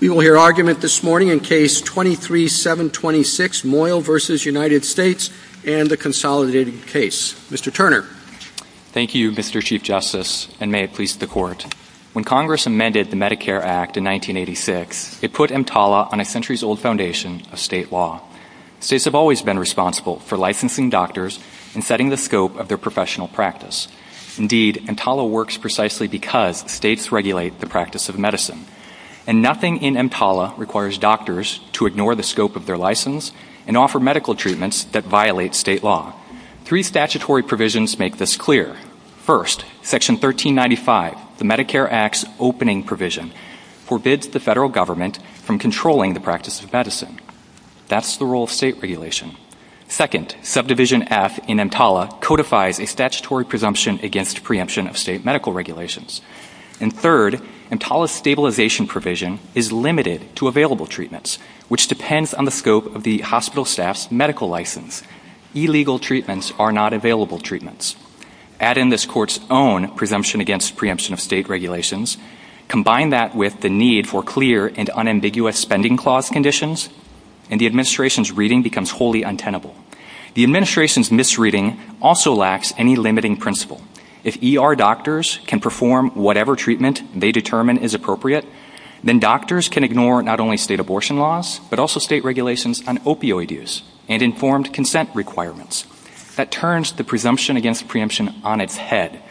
We will hear argument this morning in Case 23-726, Moyle v. United States, and the consolidated case. Mr. Turner. Thank you, Mr. Chief Justice, and may it please the Court. When Congress amended the Medicare Act in 1986, it put EMTALA on a centuries-old foundation of state law. States have always been responsible for licensing doctors and setting the scope of their professional practice. Indeed, EMTALA works precisely because states regulate the practice of medicine. And nothing in EMTALA requires doctors to ignore the scope of their license and offer medical treatments that violate state law. Three statutory provisions make this clear. First, Section 1395, the Medicare Act's opening provision, forbids the federal government from controlling the practice of medicine. That's the rule of state regulation. Second, Subdivision F in EMTALA codifies a statutory presumption against preemption of state medical regulations. And third, EMTALA's stabilization provision is limited to available treatments, which depends on the scope of the hospital staff's medical license. Illegal treatments are not available treatments. Add in this Court's own presumption against preemption of state regulations, combine that with the need for clear and unambiguous spending clause conditions, and the administration's reading becomes wholly untenable. The administration's misreading also lacks any limiting principle. If ER doctors can perform whatever treatment they determine is appropriate, then doctors can ignore not only state abortion laws but also state regulations on opioid use and informed consent requirements. That turns the presumption against preemption on its head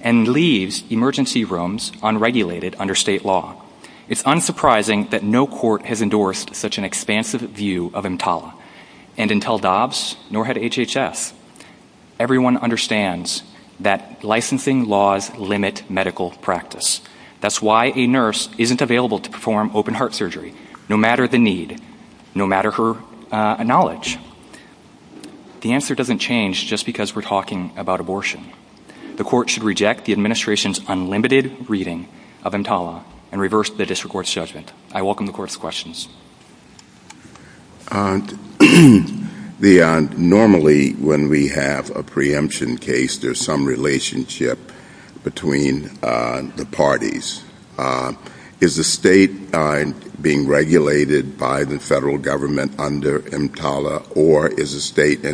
and leaves emergency rooms unregulated under state law. It's unsurprising that no court has endorsed such an expansive view of EMTALA. And until Dobbs, nor had HHF, everyone understands that licensing laws limit medical practice. That's why a nurse isn't available to perform open-heart surgery, no matter the need, no matter her knowledge. The answer doesn't change just because we're talking about abortion. The Court should reject the administration's unlimited reading of EMTALA and reverse the district court's judgment. I welcome the Court's questions. Normally, when we have a preemption case, there's some relationship between the parties. Is the state being regulated by the federal government under EMTALA, or is the state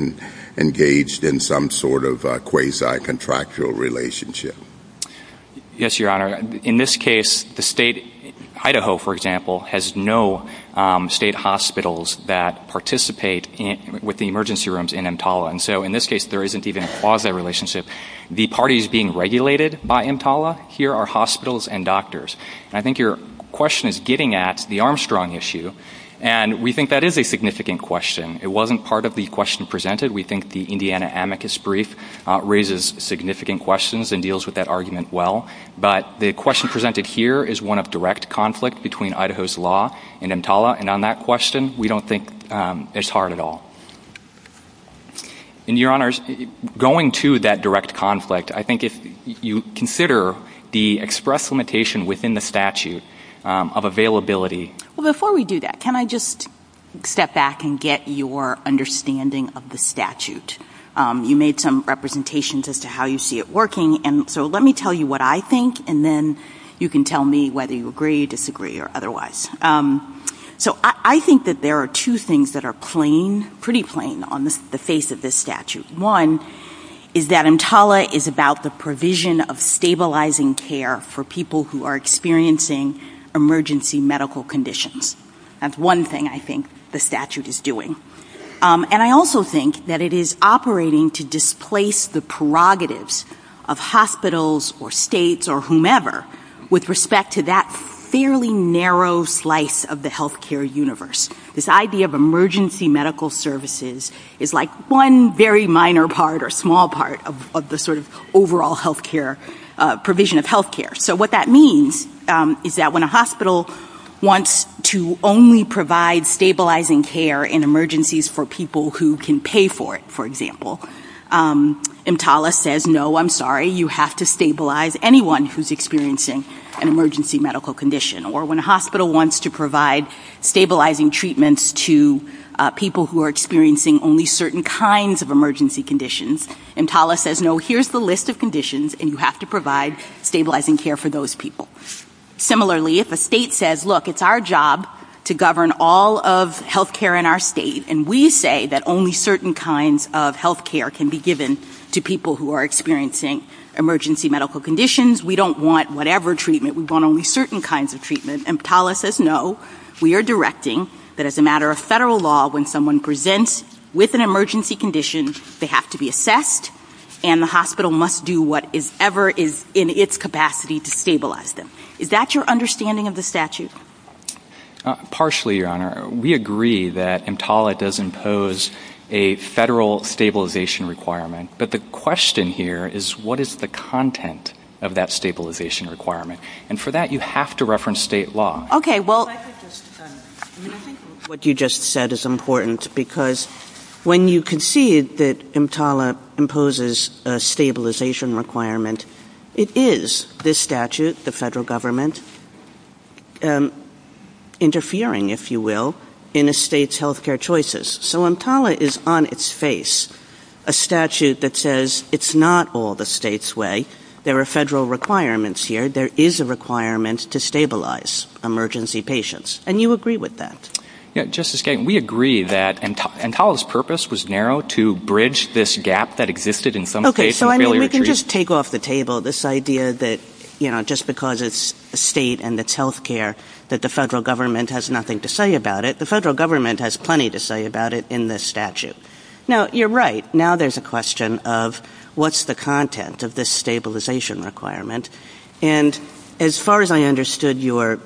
engaged in some sort of quasi-contractual relationship? Yes, Your Honor. In this case, Idaho, for example, has no state hospitals that participate with the emergency rooms in EMTALA. So in this case, there isn't even a quasi-relationship. The party is being regulated by EMTALA. Here are hospitals and doctors. I think your question is getting at the Armstrong issue, and we think that is a significant question. It wasn't part of the question presented. We think the Indiana amicus brief raises significant questions and deals with that argument well. But the question presented here is one of direct conflict between Idaho's law and EMTALA, and on that question, we don't think it's hard at all. And, Your Honors, going to that direct conflict, I think if you consider the express limitation within the statute of availability. Well, before we do that, can I just step back and get your understanding of the statute? You made some representations as to how you see it working, and so let me tell you what I think, and then you can tell me whether you agree, disagree, or otherwise. So I think that there are two things that are pretty plain on the face of this statute. One is that EMTALA is about the provision of stabilizing care for people who are experiencing emergency medical conditions. That's one thing I think the statute is doing. And I also think that it is operating to displace the prerogatives of hospitals or states or whomever with respect to that fairly narrow slice of the health care universe. This idea of emergency medical services is like one very minor part or small part of the sort of overall health care provision of health care. So what that means is that when a hospital wants to only provide stabilizing care in emergencies for people who can pay for it, for example, EMTALA says, no, I'm sorry, you have to stabilize anyone who's experiencing an emergency medical condition. Or when a hospital wants to provide stabilizing treatments to people who are experiencing only certain kinds of emergency conditions, EMTALA says, no, here's the list of conditions, and you have to provide stabilizing care for those people. Similarly, if a state says, look, it's our job to govern all of health care in our state, and we say that only certain kinds of health care can be given to people who are experiencing emergency medical conditions, we don't want whatever treatment, we want only certain kinds of treatment, EMTALA says, no, we are directing that as a matter of federal law, when someone presents with an emergency condition, they have to be assessed, and the hospital must do whatever is in its capacity to stabilize them. Is that your understanding of the statute? Partially, Your Honor. We agree that EMTALA does impose a federal stabilization requirement, but the question here is what is the content of that stabilization requirement? And for that, you have to reference state law. What you just said is important, because when you concede that EMTALA imposes a stabilization requirement, it is this statute, the federal government, interfering, if you will, in a state's health care choices. So EMTALA is on its face a statute that says it's not all the state's way. There are federal requirements here. There is a requirement to stabilize emergency patients, and you agree with that. Justice Kagan, we agree that EMTALA's purpose was narrow to bridge this gap that existed in some cases. We can just take off the table this idea that just because it's a state and it's health care, that the federal government has nothing to say about it. The federal government has plenty to say about it in this statute. Now, you're right. Now there's a question of what's the content of this stabilization requirement? And as far as I understood your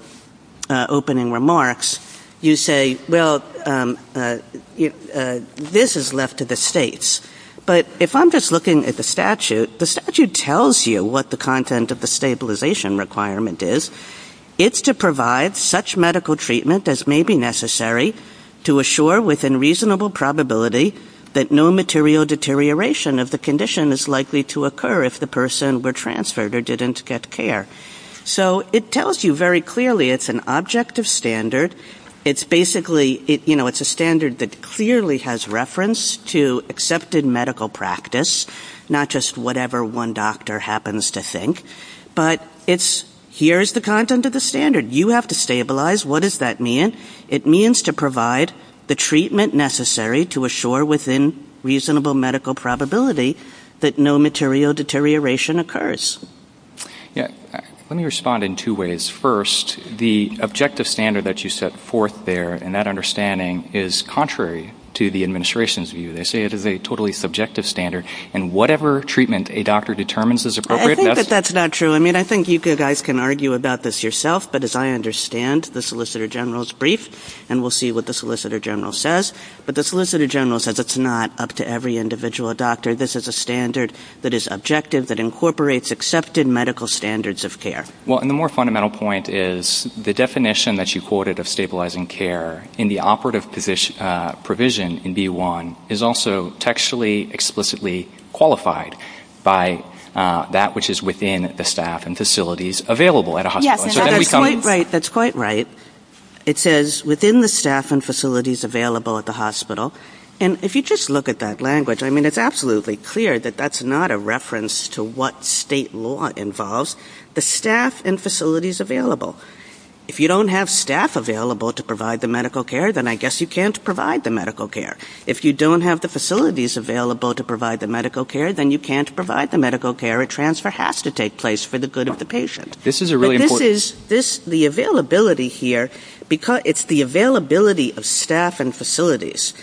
opening remarks, you say, well, this is left to the states. But if I'm just looking at the statute, the statute tells you what the content of the stabilization requirement is. It's to provide such medical treatment as may be necessary to assure, within reasonable probability, that no material deterioration of the condition is likely to occur if the person were transferred or didn't get care. So it tells you very clearly it's an objective standard. It's basically, you know, it's a standard that clearly has reference to accepted medical practice, not just whatever one doctor happens to think. But it's here is the content of the standard. You have to stabilize. What does that mean? It means to provide the treatment necessary to assure, within reasonable medical probability, that no material deterioration occurs. Yeah. Let me respond in two ways. First, the objective standard that you set forth there and that understanding is contrary to the administration's view. They say it is a totally subjective standard, and whatever treatment a doctor determines is appropriate. I think that that's not true. I mean, I think you guys can argue about this yourself. But as I understand, the Solicitor General's brief, and we'll see what the Solicitor General says, but the Solicitor General says it's not up to every individual doctor. This is a standard that is objective, that incorporates accepted medical standards of care. Well, and the more fundamental point is the definition that you quoted of stabilizing care in the operative provision in B-1 is also textually explicitly qualified by that which is within the staff and facilities available at a hospital. That's quite right. It says within the staff and facilities available at the hospital. And if you just look at that language, I mean, it's absolutely clear that that's not a reference to what state law involves. The staff and facilities available. If you don't have staff available to provide the medical care, then I guess you can't provide the medical care. If you don't have the facilities available to provide the medical care, then you can't provide the medical care. A transfer has to take place for the good of the patient. This is a really important... This is the availability here. It's the availability of staff and facilities.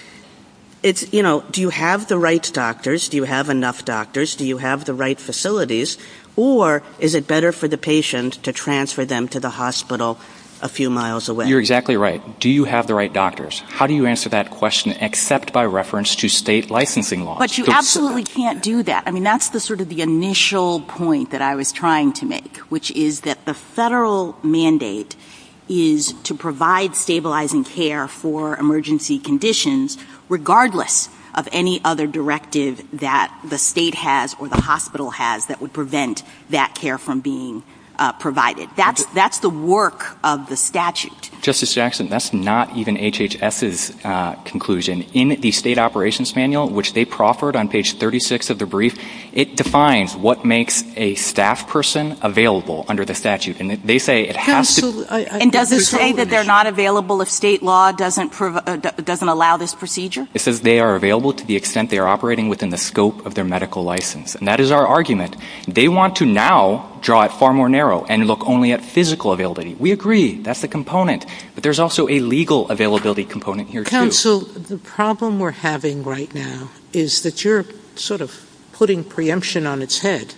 You know, do you have the right doctors? Do you have enough doctors? Do you have the right facilities? Or is it better for the patient to transfer them to the hospital a few miles away? You're exactly right. Do you have the right doctors? How do you answer that question except by reference to state licensing laws? But you absolutely can't do that. I mean, that's sort of the initial point that I was trying to make, which is that the federal mandate is to provide stabilizing care for emergency conditions, regardless of any other directive that the state has or the hospital has that would prevent that care from being provided. That's the work of the statute. Justice Jackson, that's not even HHS's conclusion. In the state operations manual, which they proffered on page 36 of the brief, it defines what makes a staff person available under the statute. And they say it has to... And does it say that they're not available if state law doesn't allow this procedure? It says they are available to the extent they are operating within the scope of their medical license. And that is our argument. They want to now draw it far more narrow and look only at physical availability. We agree. That's a component. But there's also a legal availability component here, too. Counsel, the problem we're having right now is that you're sort of putting preemption on its head.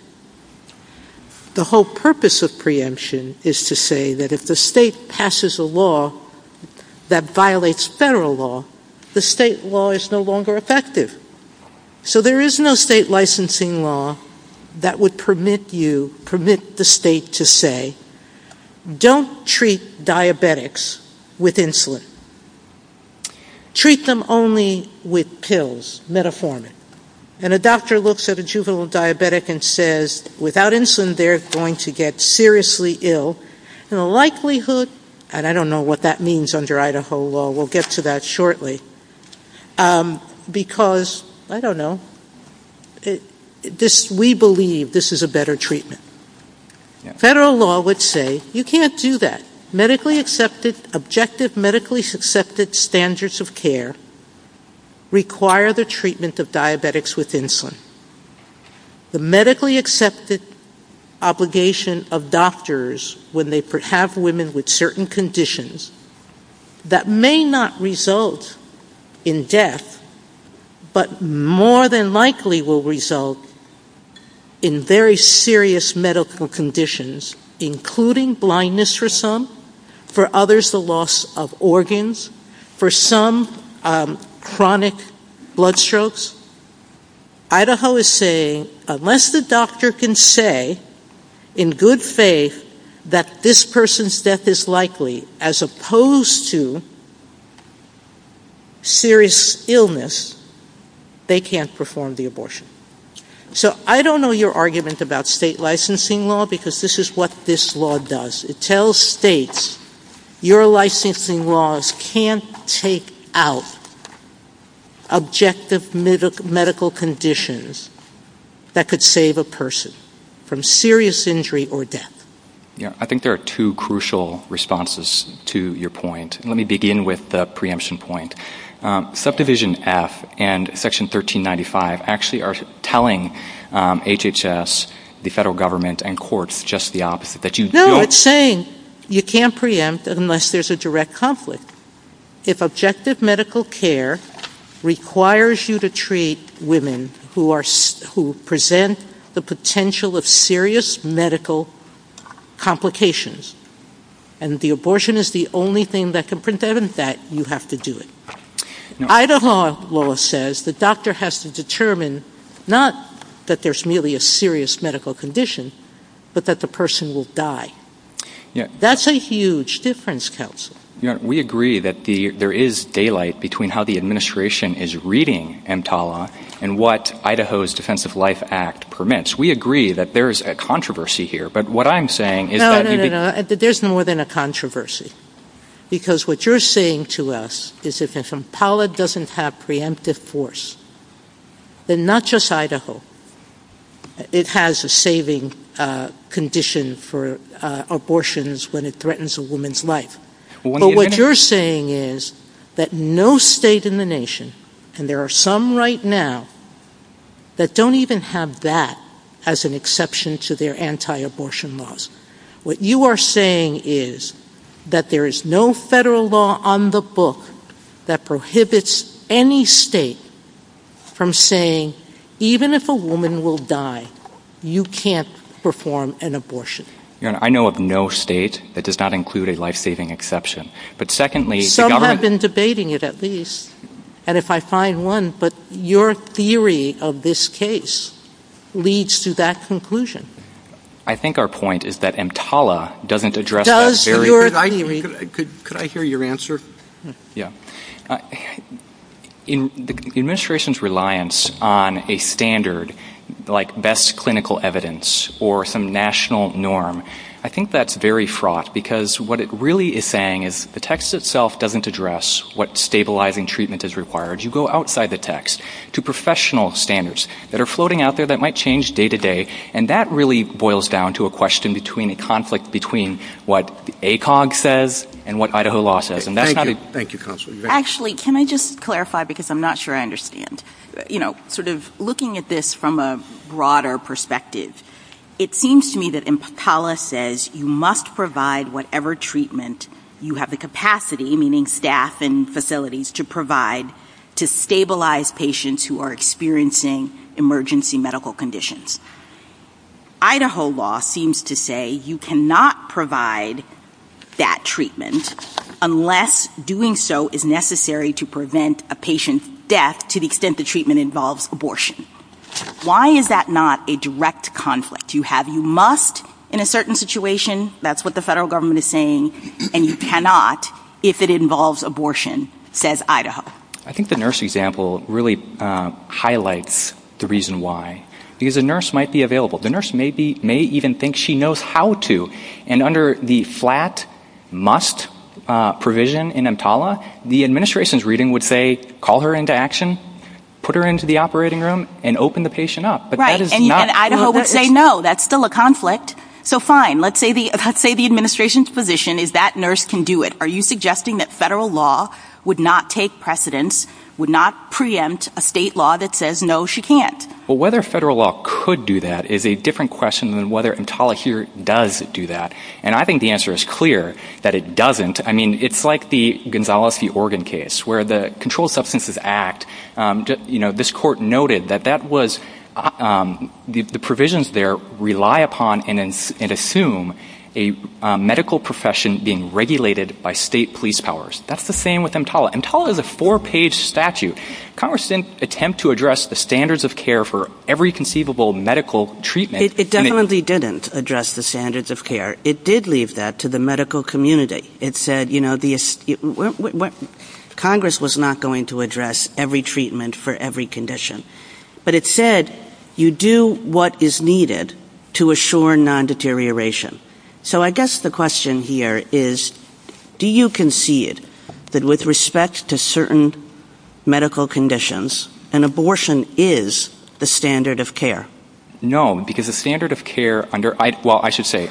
The whole purpose of preemption is to say that if the state passes a law that violates federal law, the state law is no longer effective. So there is no state licensing law that would permit you, permit the state to say, don't treat diabetics with insulin. Treat them only with pills, metformin. And a doctor looks at a juvenile diabetic and says, without insulin, they're going to get seriously ill. And the likelihood, and I don't know what that means under Idaho law. We'll get to that shortly. Because, I don't know, we believe this is a better treatment. Federal law would say, you can't do that. Medically accepted, objective medically accepted standards of care require the treatment of diabetics with insulin. The medically accepted obligation of doctors when they have women with certain conditions, that may not result in death, but more than likely will result in very serious medical conditions, including blindness for some, for others the loss of organs, for some chronic blood strokes. Idaho is saying, unless the doctor can say, in good faith, that this person's death is likely, as opposed to serious illness, they can't perform the abortion. So I don't know your argument about state licensing law, because this is what this law does. It tells states, your licensing laws can't take out objective medical conditions that could save a person from serious injury or death. I think there are two crucial responses to your point. Let me begin with the preemption point. Subdivision F and section 1395 actually are telling HHS, the federal government, and courts just the opposite. No, it's saying you can't preempt unless there's a direct conflict. If objective medical care requires you to treat women who present the potential of serious medical complications, and the abortion is the only thing that can prevent that, you have to do it. Idaho law says the doctor has to determine not that there's merely a serious medical condition, but that the person will die. That's a huge difference, Kelsey. We agree that there is daylight between how the administration is reading EMTALA and what Idaho's Defense of Life Act permits. We agree that there's a controversy here, but what I'm saying is that... No, no, no, no, there's more than a controversy. Because what you're saying to us is that if EMTALA doesn't have preemptive force, then not just Idaho, it has a saving condition for abortions when it threatens a woman's life. But what you're saying is that no state in the nation, and there are some right now, that don't even have that as an exception to their anti-abortion laws. What you are saying is that there is no federal law on the book that prohibits any state from saying, even if a woman will die, you can't perform an abortion. I know of no state that does not include a life-saving exception. Some have been debating it at least, and if I find one, but your theory of this case leads to that conclusion. I think our point is that EMTALA doesn't address that very... Could I hear your answer? Yeah. The administration's reliance on a standard, like best clinical evidence, or some national norm, I think that's very fraught, because what it really is saying is, the text itself doesn't address what stabilizing treatment is required. You go outside the text to professional standards that are floating out there that might change day to day, and that really boils down to a question between a conflict between what ACOG says and what Idaho law says. Thank you. Actually, can I just clarify, because I'm not sure I understand. Looking at this from a broader perspective, it seems to me that EMTALA says, you must provide whatever treatment you have the capacity, meaning staff and facilities, to stabilize patients who are experiencing emergency medical conditions. Idaho law seems to say you cannot provide that treatment unless doing so is necessary to prevent a patient's death to the extent the treatment involves abortion. Why is that not a direct conflict? You have, you must, in a certain situation, that's what the federal government is saying, and you cannot if it involves abortion, says Idaho. I think the nurse example really highlights the reason why. Because a nurse might be available. The nurse may even think she knows how to, and under the flat must provision in EMTALA, the administration's reading would say, call her into action, put her into the operating room, and open the patient up. Right, and Idaho would say, no, that's still a conflict. So fine, let's say the administration's position is that nurse can do it. Are you suggesting that federal law would not take precedence, would not preempt a state law that says, no, she can't? Well, whether federal law could do that is a different question than whether EMTALA here does do that. And I think the answer is clear, that it doesn't. I mean, it's like the Gonzales v. Oregon case, where the Controlled Substances Act, this court noted that the provisions there rely upon and assume a medical profession being regulated by state police powers. That's the same with EMTALA. EMTALA is a four-page statute. Congress didn't attempt to address the standards of care for every conceivable medical treatment. It definitely didn't address the standards of care. It did leave that to the medical community. Congress was not going to address every treatment for every condition. But it said, you do what is needed to assure non-deterioration. So I guess the question here is, do you concede that with respect to certain medical conditions, an abortion is the standard of care? No, because the standard of care under... Well, I should say,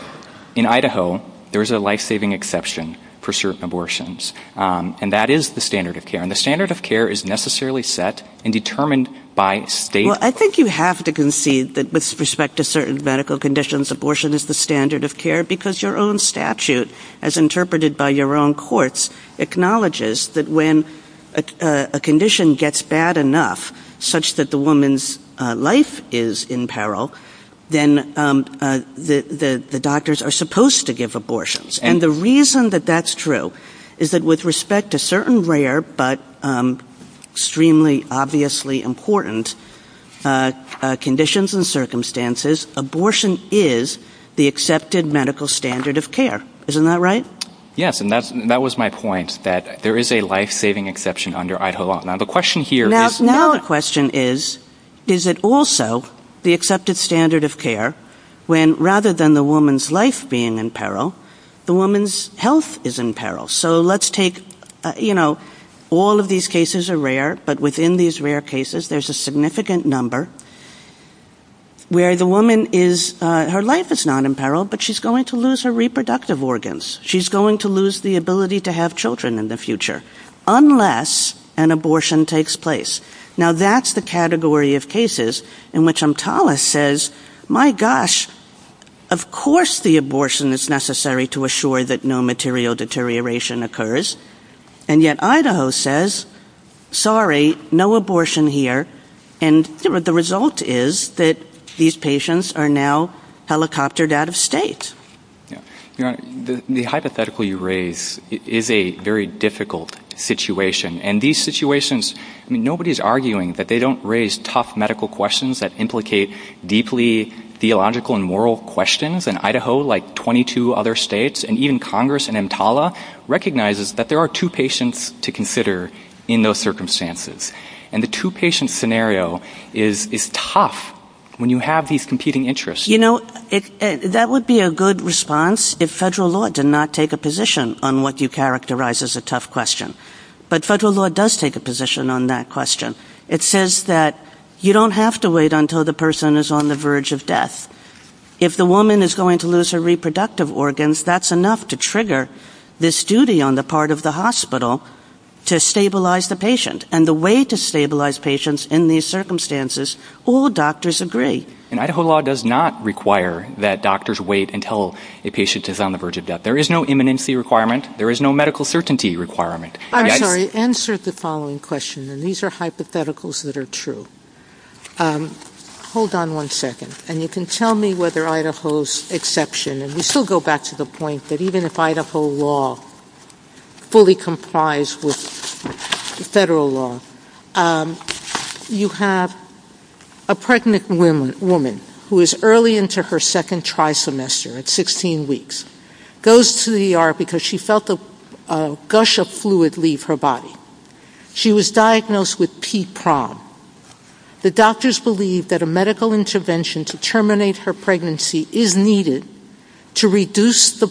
in Idaho, there is a life-saving exception for certain abortions. And that is the standard of care. And the standard of care is necessarily set and determined by state law. Well, I think you have to concede that with respect to certain medical conditions, abortion is the standard of care, because your own statute, as interpreted by your own courts, acknowledges that when a condition gets bad enough, such that the woman's life is in peril, then the doctors are supposed to give abortions. And the reason that that's true is that with respect to certain rare but extremely obviously important conditions and circumstances, abortion is the accepted medical standard of care. Isn't that right? Yes, and that was my point, that there is a life-saving exception under Idaho law. Now the question here... Now the question is, is it also the accepted standard of care when, rather than the woman's life being in peril, the woman's health is in peril? So let's take, you know, all of these cases are rare, but within these rare cases, there's a significant number where the woman is... She's going to lose the ability to have children in the future, unless an abortion takes place. Now that's the category of cases in which MTALA says, my gosh, of course the abortion is necessary to assure that no material deterioration occurs. And yet Idaho says, sorry, no abortion here. And the result is that these patients are now helicoptered out of state. The hypothetical you raise is a very difficult situation. And these situations, I mean, nobody's arguing that they don't raise tough medical questions that implicate deeply theological and moral questions. And Idaho, like 22 other states, and even Congress and MTALA, recognizes that there are two patients to consider in those circumstances. And the two-patient scenario is tough when you have these competing interests. You know, that would be a good response if federal law did not take a position on what you characterize as a tough question. But federal law does take a position on that question. It says that you don't have to wait until the person is on the verge of death. If the woman is going to lose her reproductive organs, that's enough to trigger this duty on the part of the hospital to stabilize the patient. And the way to stabilize patients in these circumstances, all doctors agree. And Idaho law does not require that doctors wait until a patient is on the verge of death. There is no imminency requirement. There is no medical certainty requirement. I'm sorry. Answer the following question. And these are hypotheticals that are true. Hold on one second. And you can tell me whether Idaho's exception, and we still go back to the point that even if Idaho law fully complies with federal law, you have a pregnant woman who is early into her second tri-semester at 16 weeks, goes to the ER because she felt a gush of fluid leave her body. She was diagnosed with T-PROG. The doctors believe that a medical intervention to terminate her pregnancy is needed to reduce the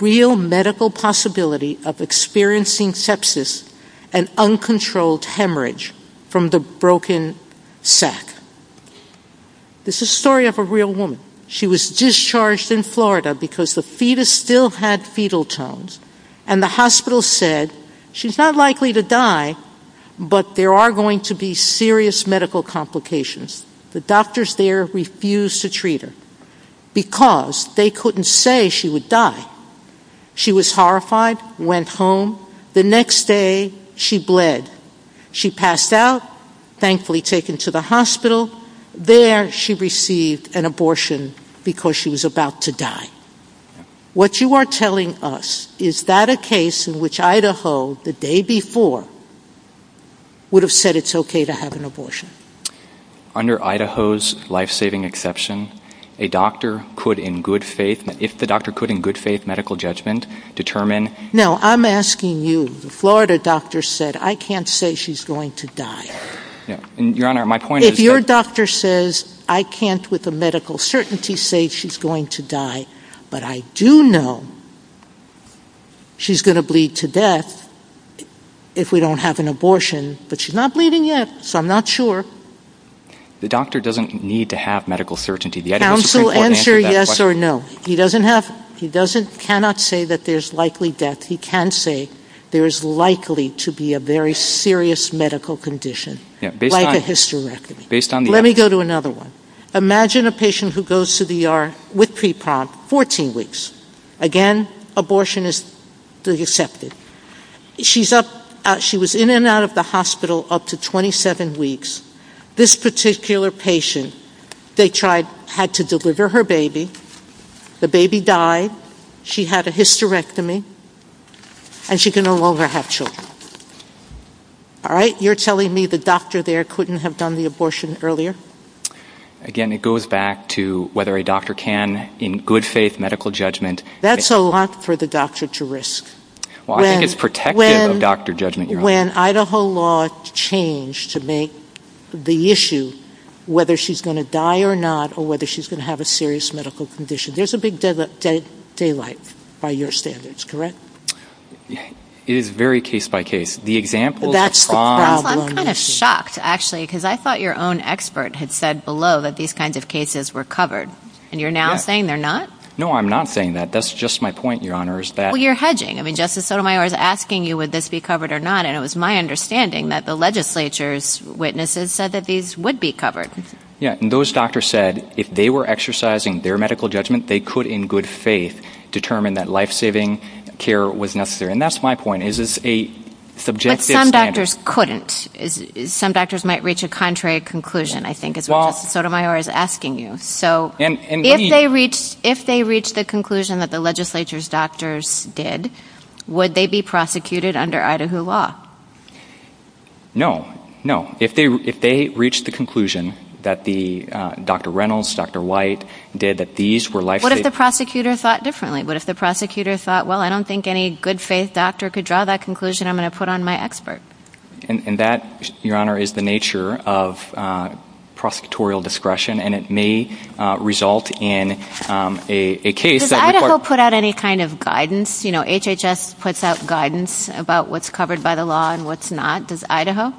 real medical possibility of experiencing sepsis and uncontrolled hemorrhage from the broken sac. This is a story of a real woman. She was discharged in Florida because the fetus still had fetal tones. And the hospital said, she's not likely to die, but there are going to be serious medical complications. The doctors there refused to treat her because they couldn't say she would die. She was horrified, went home. The next day, she bled. She passed out, thankfully taken to the hospital. There, she received an abortion because she was about to die. What you are telling us, is that a case in which Idaho, the day before, would have said it's okay to have an abortion? Under Idaho's life-saving exception, a doctor could in good faith, if the doctor could in good faith, medical judgment, determine... No, I'm asking you. The Florida doctor said, I can't say she's going to die. Your Honor, my point is... If your doctor says, I can't with a medical certainty say she's going to die, but I do know she's going to bleed to death if we don't have an abortion, but she's not bleeding yet, so I'm not sure. The doctor doesn't need to have medical certainty. Counsel, answer yes or no. He doesn't have, he doesn't, cannot say that there's likely death. He can say there is likely to be a very serious medical condition, like a hysterectomy. Let me go to another one. Imagine a patient who goes to the ER with pre-op, 14 weeks. Again, abortion is accepted. She was in and out of the hospital up to 27 weeks. This particular patient, they tried, had to deliver her baby. The baby died. She had a hysterectomy, and she can no longer have children. All right, you're telling me the doctor there couldn't have done the abortion earlier? Again, it goes back to whether a doctor can, in good faith medical judgment... That's a lot for the doctor to risk. I think it's protective of doctor judgment, Your Honor. When Idaho law changed to make the issue whether she's going to die or not or whether she's going to have a serious medical condition. There's a big daylight by your standards, correct? It is very case-by-case. That's the problem. I'm kind of shocked, actually, because I thought your own expert had said below that these kinds of cases were covered, and you're now saying they're not? No, I'm not saying that. That's just my point, Your Honor, is that... Well, you're hedging. I mean, Justice Sotomayor is asking you would this be covered or not, and it was my understanding that the legislature's witnesses said that these would be covered. Yeah, and those doctors said if they were exercising their medical judgment, they could, in good faith, determine that life-saving care was necessary. And that's my point. Is this a subjective... But some doctors couldn't. Some doctors might reach a contrary conclusion, I think, as Justice Sotomayor is asking you. If they reached the conclusion that the legislature's doctors did, would they be prosecuted under Idaho law? No, no. If they reached the conclusion that Dr. Reynolds, Dr. White did, that these were life-saving... What if the prosecutor thought differently? What if the prosecutor thought, well, I don't think any good-faith doctor could draw that conclusion. I'm going to put on my expert. And that, Your Honor, is the nature of prosecutorial discretion, and it may result in a case that... Does Idaho put out any kind of guidance? You know, HHS puts out guidance about what's covered by the law and what's not. Does Idaho?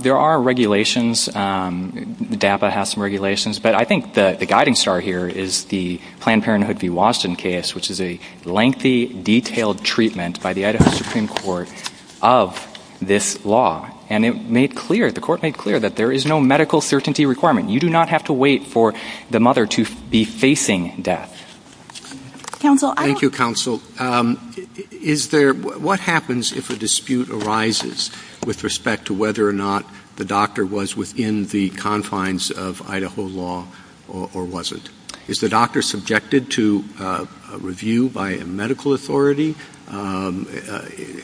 There are regulations. DAPA has some regulations. But I think the guiding star here is the Planned Parenthood v. Washington case, which is a lengthy, detailed treatment by the Idaho Supreme Court of this law. And it made clear, the court made clear, that there is no medical certainty requirement. You do not have to wait for the mother to be facing death. Thank you, counsel. Is there... What happens if a dispute arises with respect to whether or not the doctor was within the confines of Idaho law or wasn't? Is the doctor subjected to review by a medical authority?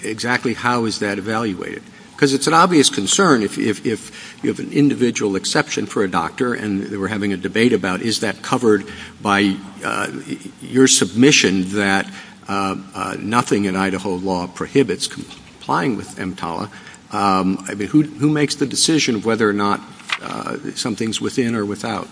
Exactly how is that evaluated? Because it's an obvious concern if you have an individual exception for a doctor, and we're having a debate about, is that covered by your submission that nothing in Idaho law prohibits complying with EMTALA? I mean, who makes the decision of whether or not something's within or without?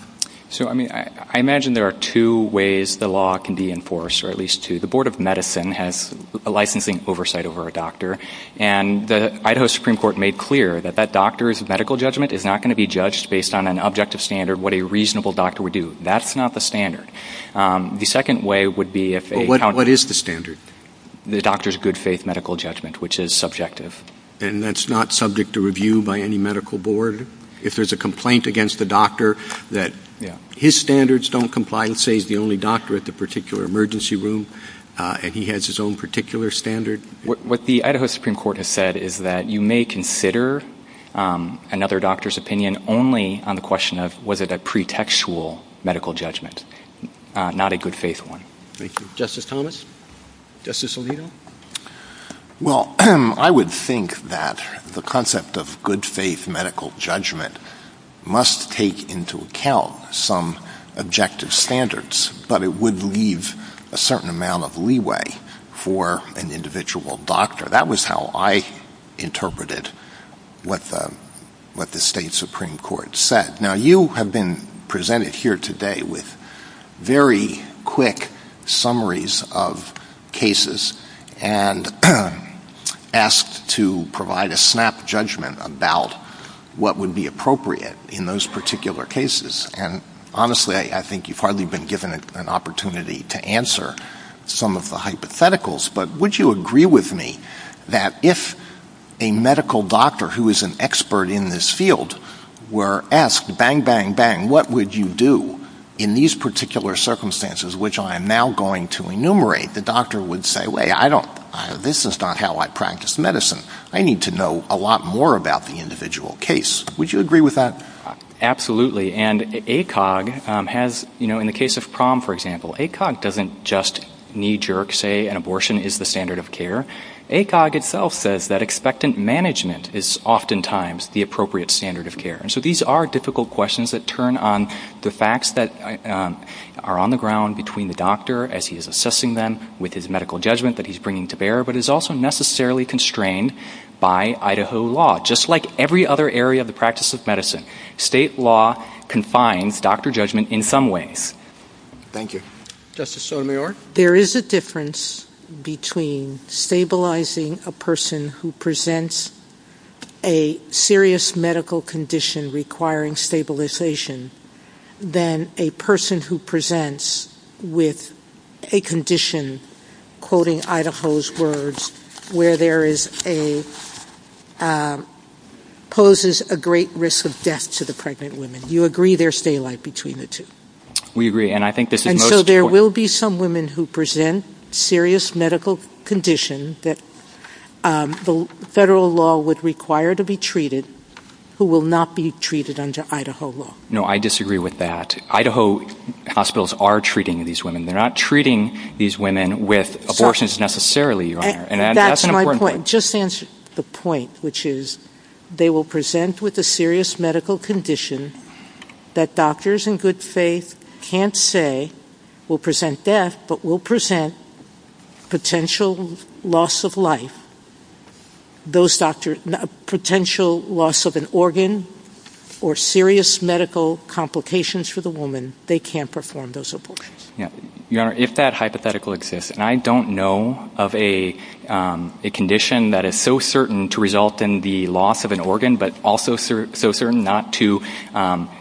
So, I mean, I imagine there are two ways the law can be enforced, or at least two. The Board of Medicine has a licensing oversight over a doctor, and the Idaho Supreme Court made clear that that doctor's medical judgment is not going to be judged based on an objective standard, what a reasonable doctor would do. That's not the standard. The second way would be if a... What is the standard? The doctor's good faith medical judgment, which is subjective. And that's not subject to review by any medical board? If there's a complaint against the doctor that his standards don't comply and say he's the only doctor at the particular emergency room, and he has his own particular standard? What the Idaho Supreme Court has said is that you may consider another doctor's opinion only on the question of, was it a pretextual medical judgment, not a good faith one. Thank you. Justice Thomas? Justice Alito? Well, I would think that the concept of good faith medical judgment must take into account some objective standards, but it would leave a certain amount of leeway for an individual doctor. That was how I interpreted what the state Supreme Court said. Now, you have been presented here today with very quick summaries of cases and asked to provide a snap judgment about what would be appropriate in those particular cases. And honestly, I think you've hardly been given an opportunity to answer some of the hypotheticals, but would you agree with me that if a medical doctor who is an expert in this field were asked, bang, bang, bang, what would you do in these particular circumstances, which I am now going to enumerate, the doctor would say, well, this is not how I practice medicine. I need to know a lot more about the individual case. Would you agree with that? Absolutely. And ACOG has, you know, in the case of PROM, for example, ACOG doesn't just knee-jerk say an abortion is the standard of care. ACOG itself says that expectant management is oftentimes the appropriate standard of care. And so these are difficult questions that turn on the facts that are on the ground between the doctor as he is assessing them with his medical judgment that he's bringing to bear, but is also necessarily constrained by Idaho law, just like every other area of the practice of medicine. State law confines doctor judgment in some ways. Thank you. Justice Sotomayor? There is a difference between stabilizing a person who presents a serious medical condition requiring stabilization than a person who presents with a condition, quoting Idaho's words, where there is a poses a great risk of death to the pregnant woman. Do you agree there's daylight between the two? We agree. And I think this is most important. And so there will be some women who present serious medical condition that the federal law would require to be treated who will not be treated under Idaho law. No, I disagree with that. Idaho hospitals are treating these women. They're not treating these women with abortions necessarily, Your Honor. That's my point. Just answer the point, which is they will present with a serious medical condition that doctors in good faith can't say will present death, but will present potential loss of life. Those doctors, potential loss of an organ or serious medical complications for the woman, they can't perform those abortions. Your Honor, if that hypothetical exists, and I don't know of a condition that is so certain to result in the loss of an organ but also so certain not to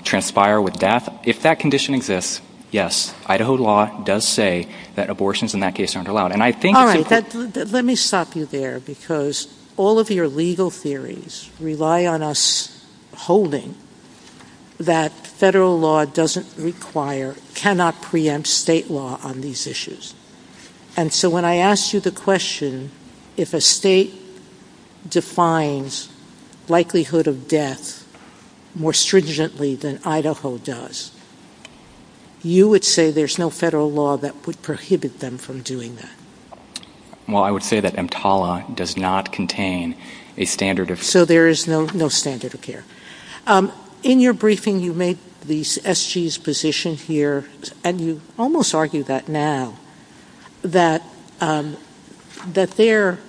transpire with death, if that condition exists, yes, Idaho law does say that abortions in that case aren't allowed. All right. Let me stop you there because all of your legal theories rely on us holding that federal law doesn't require, cannot preempt state law on these issues. And so when I asked you the question, if a state defines likelihood of death more stringently than Idaho does, you would say there's no federal law that would prohibit them from doing that. Well, I would say that EMTALA does not contain a standard of care. So there is no standard of care. In your briefing, you made the SG's position here, and you almost argue that now, that their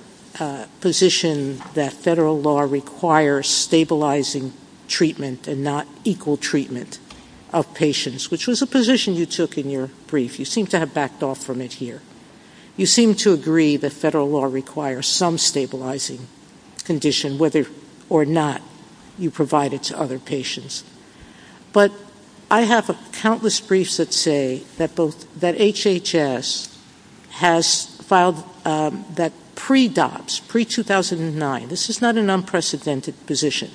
position that federal law requires stabilizing treatment and not equal treatment of patients, which was a position you took in your brief. You seem to have backed off from it here. You seem to agree that federal law requires some stabilizing condition, whether or not you provide it to other patients. But I have countless briefs that say that HHS has filed that pre-DOPS, pre-2009, this is not an unprecedented position,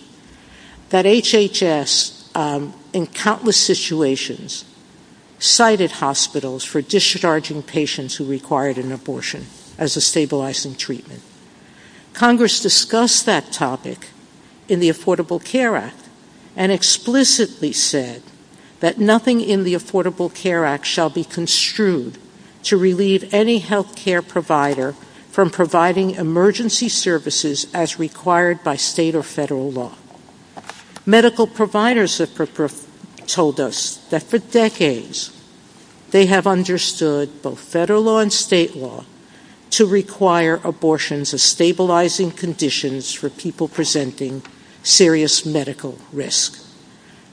that HHS in countless situations cited hospitals for discharging patients who required an abortion as a stabilizing treatment. Congress discussed that topic in the Affordable Care Act and explicitly said that nothing in the Affordable Care Act shall be construed to relieve any health care provider from providing emergency services as required by state or federal law. Medical providers have told us that for decades, they have understood both federal law and state law to require abortions as stabilizing conditions for people presenting serious medical risk.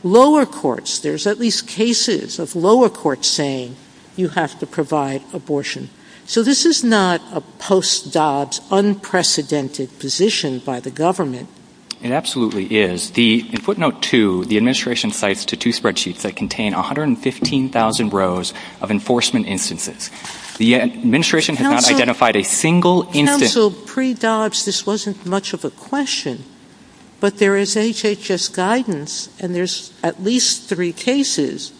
Lower courts, there's at least cases of lower courts saying you have to provide abortion. So this is not a post-DOPS unprecedented position by the government. It absolutely is. In footnote two, the administration cites two spreadsheets that contain 115,000 rows of enforcement instances. The administration has not identified a single instance. In terms of pre-DOPS, this wasn't much of a question, but there is HHS guidance and there's at least three cases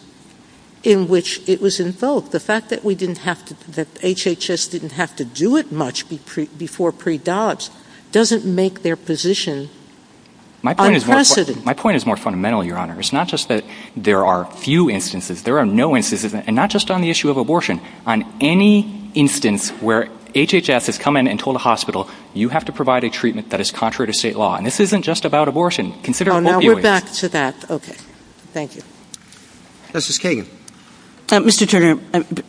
in which it was invoked. The fact that HHS didn't have to do it much before pre-DOPS doesn't make their position unprecedented. My point is more fundamental, Your Honor. It's not just that there are few instances. There are no instances, and not just on the issue of abortion. On any instance where HHS has come in and told a hospital, you have to provide a treatment that is contrary to state law. And this isn't just about abortion. Now we're back to that. Okay. Thank you. Justice Kagan. Mr. Turner,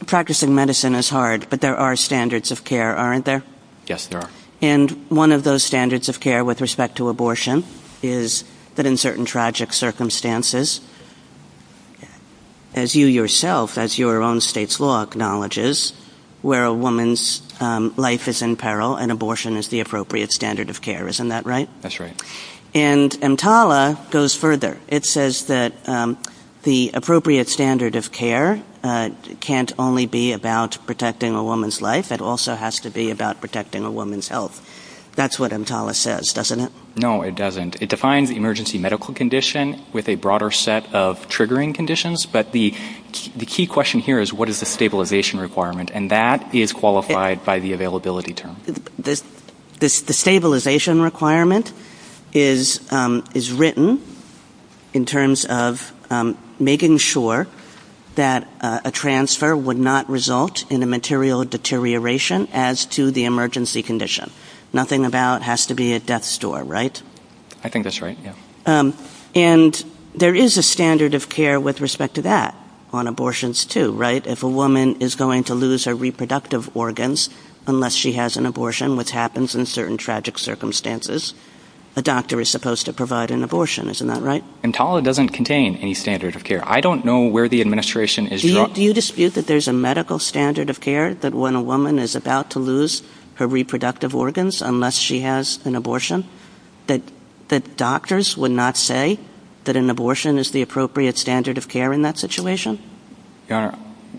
practicing medicine is hard, but there are standards of care, aren't there? Yes, there are. And one of those standards of care with respect to abortion is that in certain tragic circumstances, as you yourself, as your own state's law acknowledges, where a woman's life is in peril and abortion is the appropriate standard of care, isn't that right? That's right. And EMTALA goes further. It says that the appropriate standard of care can't only be about protecting a woman's life. It also has to be about protecting a woman's health. That's what EMTALA says, doesn't it? No, it doesn't. It defines emergency medical condition with a broader set of triggering conditions, but the key question here is what is the stabilization requirement, and that is qualified by the availability term. The stabilization requirement is written in terms of making sure that a transfer would not result in a material deterioration as to the emergency condition. Nothing about it has to be a death store, right? I think that's right, yes. And there is a standard of care with respect to that on abortions too, right? If a woman is going to lose her reproductive organs unless she has an abortion, which happens in certain tragic circumstances, a doctor is supposed to provide an abortion, isn't that right? EMTALA doesn't contain any standard of care. I don't know where the administration is... Do you dispute that there's a medical standard of care that when a woman is about to lose her reproductive organs unless she has an abortion, that doctors would not say that an abortion is the appropriate standard of care in that situation?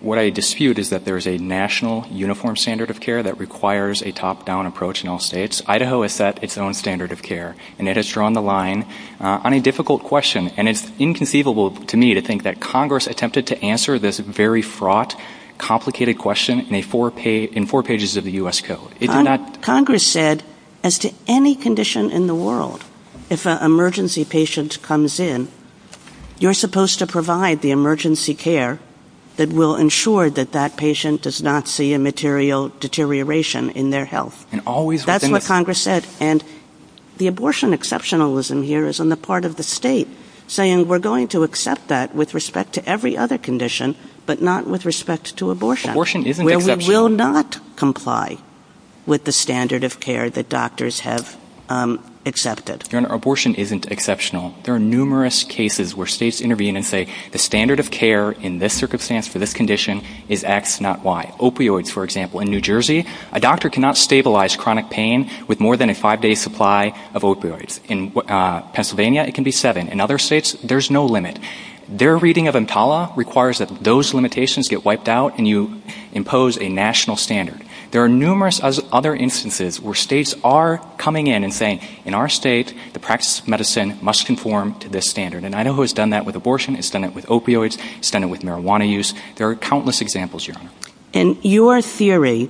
What I dispute is that there's a national uniform standard of care that requires a top-down approach in all states. Idaho has set its own standard of care, and it has drawn the line on a difficult question, and it's inconceivable to me to think that Congress attempted to answer this very fraught, complicated question in four pages of the U.S. Code. Congress said, as to any condition in the world, if an emergency patient comes in, you're supposed to provide the emergency care that will ensure that that patient does not see a material deterioration in their health. That's what Congress said. And the abortion exceptionalism here is on the part of the state saying we're going to accept that with respect to every other condition, but not with respect to abortion, where we will not comply with the standard of care that doctors have accepted. Your Honor, abortion isn't exceptional. There are numerous cases where states intervene and say the standard of care in this circumstance for this condition is X, not Y. Opioids, for example. In New Jersey, a doctor cannot stabilize chronic pain with more than a five-day supply of opioids. In Pennsylvania, it can be seven. In other states, there's no limit. Their reading of EMTALA requires that those limitations get wiped out and you impose a national standard. There are numerous other instances where states are coming in and saying, in our state, the practice of medicine must conform to this standard. And I know who has done that with abortion. It's done it with opioids. It's done it with marijuana use. There are countless examples, Your Honor. In your theory,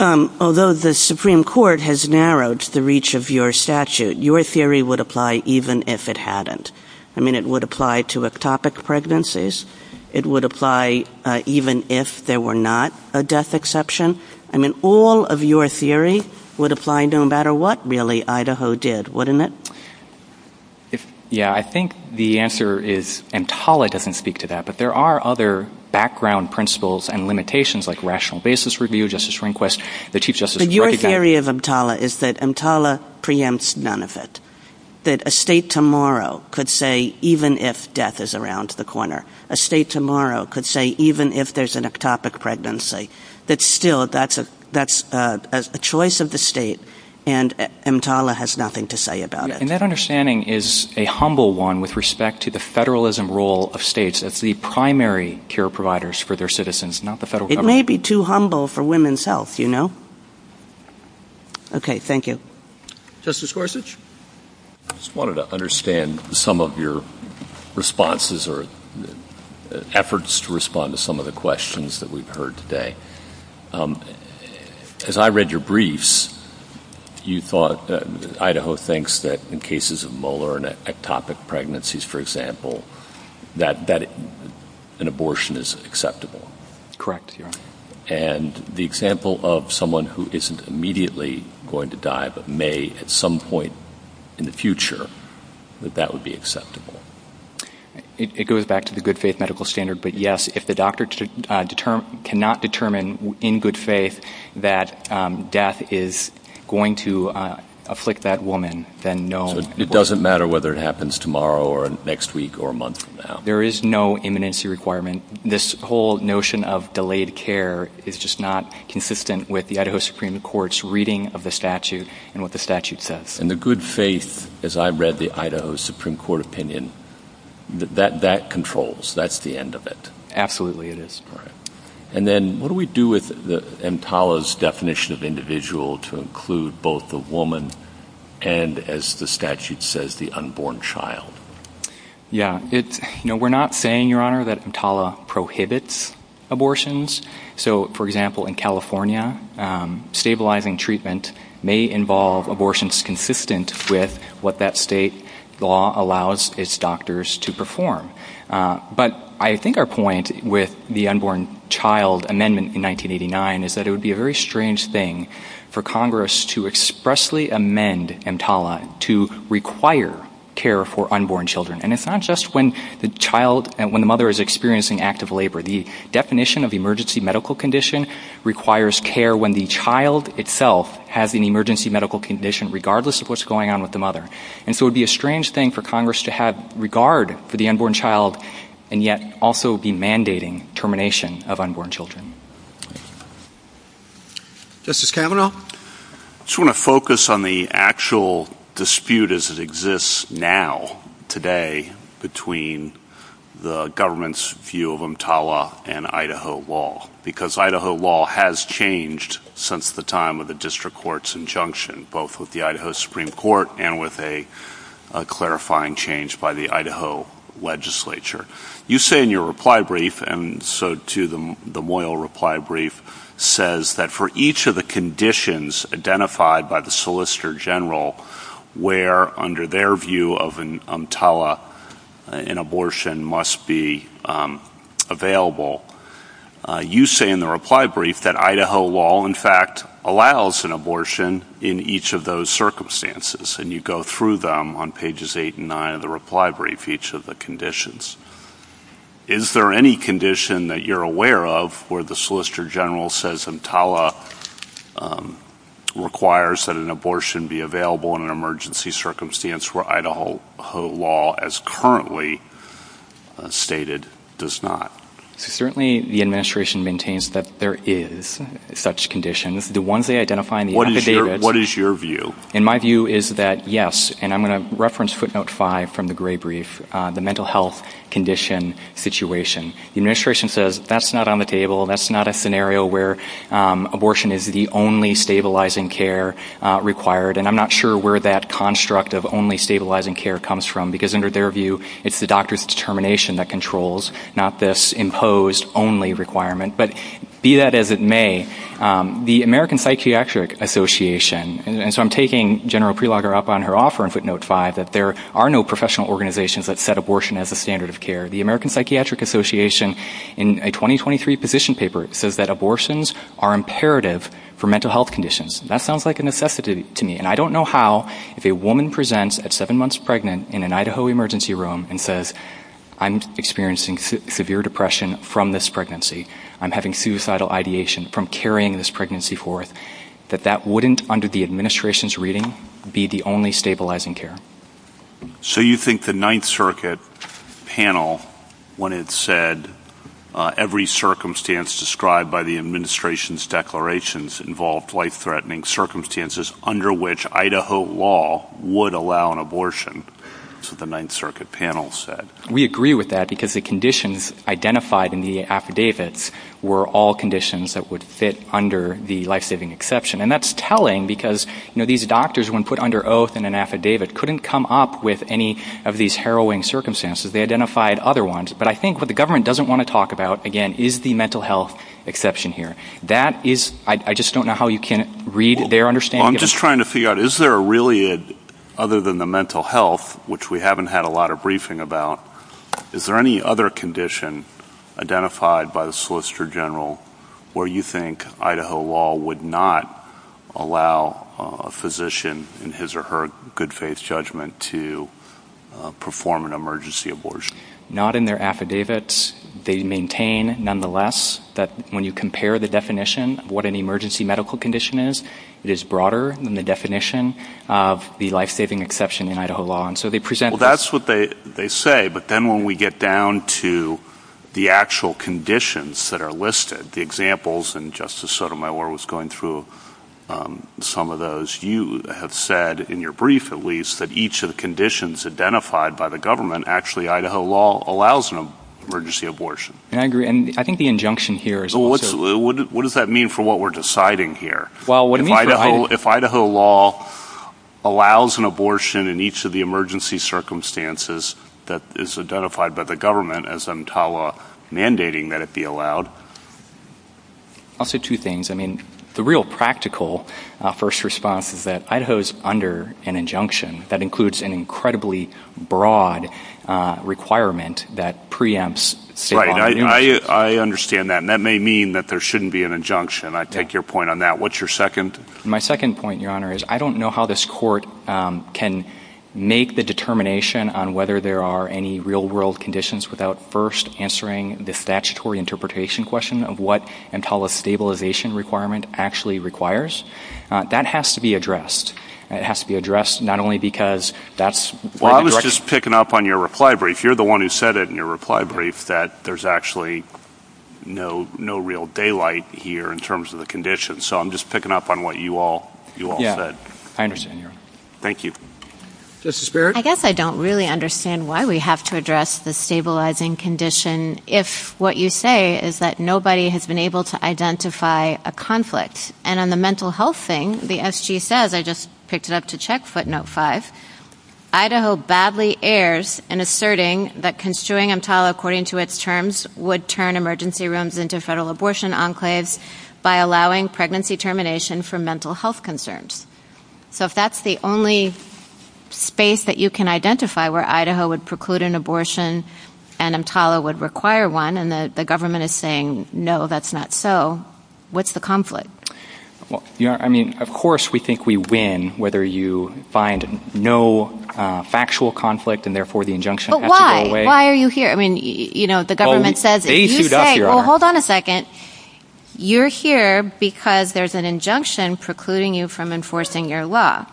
although the Supreme Court has narrowed the reach of your statute, your theory would apply even if it hadn't. I mean, it would apply to ectopic pregnancies. It would apply even if there were not a death exception. I mean, all of your theory would apply no matter what, really, Idaho did, wouldn't it? Yeah, I think the answer is EMTALA doesn't speak to that, but there are other background principles and limitations like rational basis review, justice request, the Chief Justice's recognition... But your theory of EMTALA is that EMTALA preempts none of it, that a state tomorrow could say even if death is around the corner, a state tomorrow could say even if there's an ectopic pregnancy, that still, that's a choice of the state and EMTALA has nothing to say about it. And that understanding is a humble one with respect to the federalism role of states. It's the primary care providers for their citizens, not the federal government. It may be too humble for women's health, you know? Okay, thank you. Justice Gorsuch? I just wanted to understand some of your responses or efforts to respond to some of the questions that we've heard today. As I read your briefs, you thought that Idaho thinks that in cases of molar and ectopic pregnancies, for example, that an abortion is acceptable. Correct. And the example of someone who isn't immediately going to die but may at some point in the future, that that would be acceptable. It goes back to the good faith medical standard, but yes, if the doctor cannot determine in good faith that death is going to afflict that woman, then no abortion... So it doesn't matter whether it happens tomorrow or next week or a month from now. There is no imminency requirement. This whole notion of delayed care is just not consistent with the Idaho Supreme Court's reading of the statute and what the statute says. And the good faith, as I read the Idaho Supreme Court opinion, that that controls. That's the end of it. Absolutely it is. All right. And then what do we do with EMTALA's definition of individual to include both the woman and, as the statute says, the unborn child? Yeah. We're not saying, Your Honor, that EMTALA prohibits abortions. So, for example, in California, stabilizing treatment may involve abortions consistent with what that state law allows its doctors to perform. But I think our point with the unborn child amendment in 1989 is that it would be a very strange thing for Congress to expressly amend EMTALA to require care for unborn children. And it's not just when the mother is experiencing active labor. The definition of emergency medical condition requires care when the child itself has an emergency medical condition, regardless of what's going on with the mother. And so it would be a strange thing for Congress to have regard for the unborn child and yet also be mandating termination of unborn children. Justice Kavanaugh? I just want to focus on the actual dispute as it exists now, today, between the government's view of EMTALA and Idaho law, because Idaho law has changed since the time of the district court's injunction, both with the Idaho Supreme Court and with a clarifying change by the Idaho legislature. You say in your reply brief, and so, too, the Moyle reply brief, says that for each of the conditions identified by the Solicitor General where, under their view of EMTALA, an abortion must be available, you say in the reply brief that Idaho law, in fact, allows an abortion in each of those circumstances. And you go through them on pages 8 and 9 of the reply brief, each of the conditions. Is there any condition that you're aware of where the Solicitor General says EMTALA requires that an abortion be available in an emergency circumstance where Idaho law, as currently stated, does not? Certainly, the administration maintains that there is such conditions. The ones they identify in the metadata... What is your view? And my view is that, yes, and I'm going to reference footnote 5 from the gray brief, the mental health condition situation. The administration says that's not on the table, that's not a scenario where abortion is the only stabilizing care required, and I'm not sure where that construct of only stabilizing care comes from, because, under their view, it's the doctor's determination that controls, not this imposed only requirement. But be that as it may, the American Psychiatric Association, and so I'm taking General Prelogger up on her offer in footnote 5, that there are no professional organizations that set abortion as a standard of care. The American Psychiatric Association, in a 2023 position paper, says that abortions are imperative for mental health conditions. That sounds like a necessity to me, and I don't know how, if a woman presents at seven months pregnant in an Idaho emergency room and says, I'm experiencing severe depression from this pregnancy, I'm having suicidal ideation from carrying this pregnancy forth, that that wouldn't, under the administration's reading, be the only stabilizing care. So you think the Ninth Circuit panel, when it said, every circumstance described by the administration's declarations involved life-threatening circumstances under which Idaho law would allow an abortion, is what the Ninth Circuit panel said. We agree with that, because the conditions identified in the affidavits were all conditions that would fit under the life-saving exception. And that's telling, because these doctors, when put under oath in an affidavit, couldn't come up with any of these harrowing circumstances. They identified other ones. But I think what the government doesn't want to talk about, again, is the mental health exception here. I just don't know how you can read their understanding. I'm just trying to figure out, is there really, other than the mental health, which we haven't had a lot of briefing about, is there any other condition identified by the Solicitor General where you think Idaho law would not allow a physician, in his or her good faith judgment, to perform an emergency abortion? Not in their affidavits. They maintain, nonetheless, that when you compare the definition of what an emergency medical condition is, it is broader than the definition of the life-saving exception in Idaho law. And so they present... Well, that's what they say. But then when we get down to the actual conditions that are listed, the examples, and Justice Sotomayor was going through some of those, you have said, in your brief at least, that each of the conditions identified by the government, actually Idaho law allows an emergency abortion. And I agree. And I think the injunction here is also... What does that mean for what we're deciding here? Well, what it means... If Idaho law allows an abortion in each of the emergency circumstances that is identified by the government, then there's no reason for the government, as I'm mandating, that it be allowed. I'll say two things. I mean, the real practical first response is that Idaho is under an injunction that includes an incredibly broad requirement that preempts... Right, I understand that. And that may mean that there shouldn't be an injunction. I take your point on that. What's your second? My second point, Your Honor, is I don't know how this court can make the determination on whether there are any real-world conditions without first answering the statutory interpretation question of what an intolerance stabilization requirement actually requires. That has to be addressed. It has to be addressed not only because that's... Well, I was just picking up on your reply brief. You're the one who said it in your reply brief that there's actually no real daylight here in terms of the conditions. So I'm just picking up on what you all said. Yeah, I understand, Your Honor. Thank you. Justice Barrett? I guess I don't really understand why we have to address the stabilizing condition if what you say is that nobody has been able to identify a conflict. And in the mental health thing, the SG says, I just picked it up to check, footnote 5, Idaho badly errs in asserting that construing a tile according to its terms would turn emergency rooms into federal abortion enclaves by allowing pregnancy termination for mental health concerns. So if that's the only space that you can identify where Idaho would preclude an abortion and EMTALA would require one and the government is saying, no, that's not so, what's the conflict? I mean, of course we think we win whether you find no factual conflict and therefore the injunction has to go away. But why? Why are you here? I mean, you know, the government says it. Well, hold on a second. You're here because there's an injunction precluding you from enforcing your law.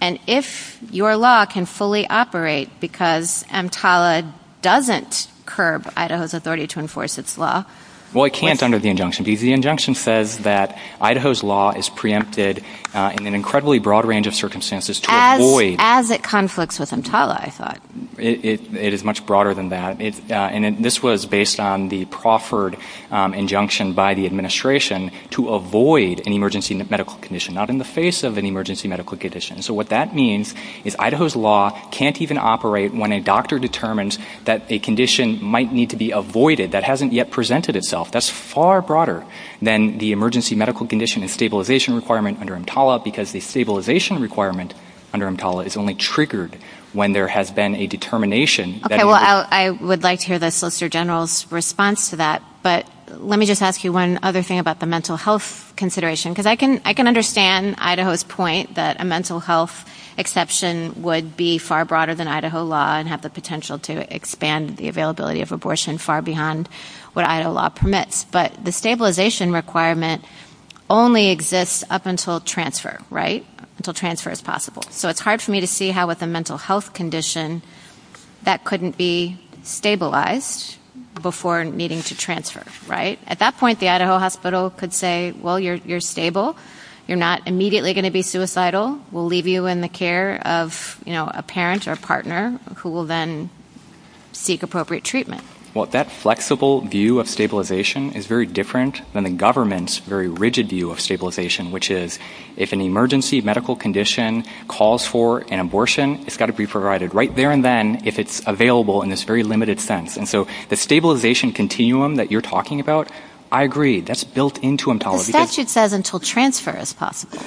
And if your law can fully operate because EMTALA doesn't curb Idaho's authority to enforce its law... Well, it can't under the injunction. The injunction says that Idaho's law is preempted in an incredibly broad range of circumstances to avoid... As it conflicts with EMTALA, I thought. It is much broader than that. And this was based on the proffered injunction by the administration to avoid an emergency medical condition, not in the face of an emergency medical condition. So what that means is Idaho's law can't even operate when a doctor determines that a condition might need to be avoided. That hasn't yet presented itself. That's far broader than the emergency medical condition and stabilization requirement under EMTALA because the stabilization requirement under EMTALA is only triggered when there has been a determination... Okay, well, I would like to hear the Solicitor General's response to that. But let me just ask you one other thing about the mental health consideration. Because I can understand Idaho's point that a mental health exception would be far broader than Idaho law and have the potential to expand the availability of abortion far beyond what Idaho law permits. But the stabilization requirement only exists up until transfer, right? Until transfer is possible. So it's hard for me to see how with a mental health condition that couldn't be stabilized before needing to transfer, right? At that point, the Idaho hospital could say, well, you're stable. You're not immediately going to be suicidal. We'll leave you in the care of a parent or partner who will then seek appropriate treatment. Well, that flexible view of stabilization is very different than the government's very rigid view of stabilization, which is if an emergency medical condition calls for an abortion, it's got to be provided right there and then if it's available in this very limited sense. And so the stabilization continuum that you're talking about, I agree. That's built into emtology. But statute says until transfer is possible.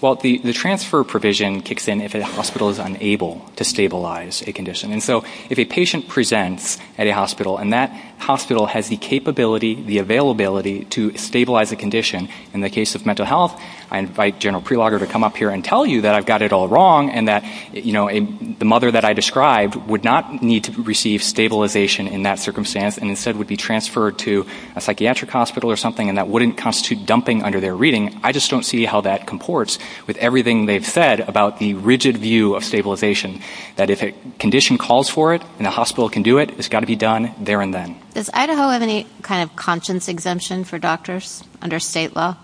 Well, the transfer provision kicks in if a hospital is unable to stabilize a condition. And so if a patient presents at a hospital and that hospital has the capability, the availability to stabilize a condition, in the case of mental health, I invite General Prelogger to come up here and tell you that I've got it all wrong and that the mother that I described would not need to receive stabilization in that circumstance and instead would be transferred to a psychiatric hospital or something and that wouldn't constitute dumping under their reading. I just don't see how that comports with everything they've said about the rigid view of stabilization, that if a condition calls for it and a hospital can do it, it's got to be done there and then. Does Idaho have any kind of conscience exemption for doctors under state law?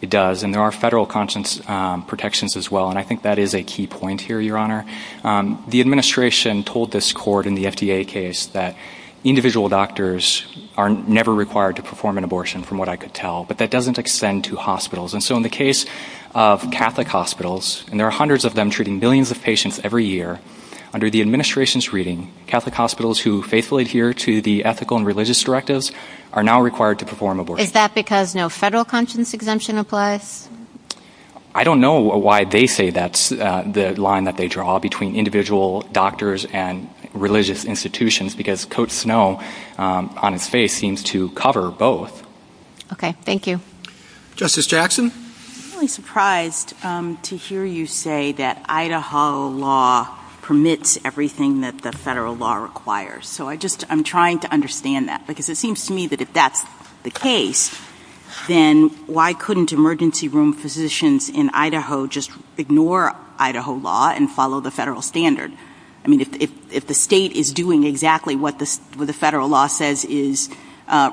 It does, and there are federal conscience protections as well. And I think that is a key point here, Your Honor. The administration told this court in the FDA case that individual doctors are never required to perform an abortion, from what I could tell, but that doesn't extend to hospitals. And so in the case of Catholic hospitals, and there are hundreds of them treating billions of patients every year, under the administration's reading, Catholic hospitals who faithfully adhere to the ethical and religious directives are now required to perform abortions. Is that because no federal conscience exemption applies? I don't know why they say that's the line that they draw between individual doctors and religious institutions, because Coates Snow, on its face, seems to cover both. Okay, thank you. Justice Jackson? I'm really surprised to hear you say that Idaho law permits everything that the federal law requires. So I'm trying to understand that, because it seems to me that if that's the case, then why couldn't emergency room physicians in Idaho just ignore Idaho law and follow the federal standard? I mean, if the state is doing exactly what the federal law says is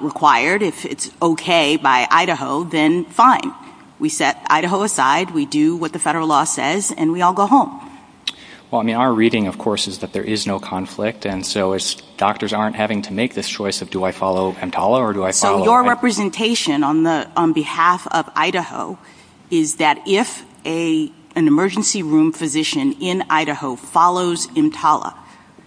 required, if it's okay by Idaho, then fine. We set Idaho aside, we do what the federal law says, and we all go home. Well, I mean, our reading, of course, is that there is no conflict, and so doctors aren't having to make this choice of do I follow EMTALA or do I follow... Your representation on behalf of Idaho is that if an emergency room physician in Idaho follows EMTALA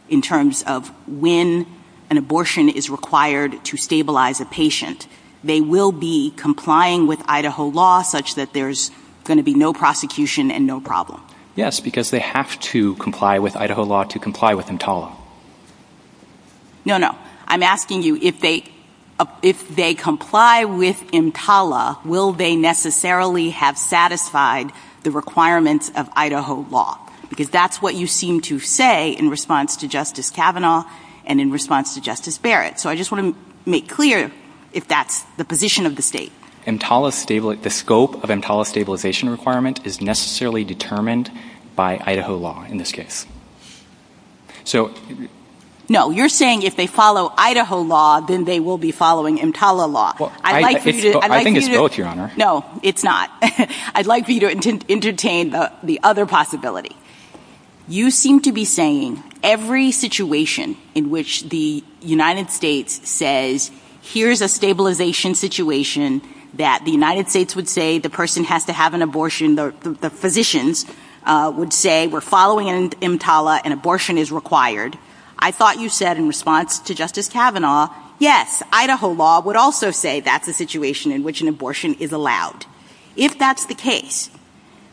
in terms of when an abortion is required to stabilize a patient, they will be complying with Idaho law such that there's going to be no prosecution and no problem. Yes, because they have to comply with Idaho law to comply with EMTALA. No, no. I'm asking you, if they comply with EMTALA, will they necessarily have satisfied the requirements of Idaho law? Because that's what you seem to say in response to Justice Kavanaugh and in response to Justice Barrett. So I just want to make clear if that's the position of the state. EMTALA... The scope of EMTALA stabilization requirement is necessarily determined by Idaho law in this case. So... No, you're saying if they follow Idaho law, then they will be following EMTALA law. Well, I think it's guilt, Your Honor. No, it's not. I'd like for you to entertain the other possibility. You seem to be saying every situation in which the United States says here's a stabilization situation that the United States would say the person has to have an abortion, the physicians would say we're following EMTALA and abortion is required. I thought you said in response to Justice Kavanaugh, yes, Idaho law would also say that's the situation in which an abortion is allowed. If that's the case,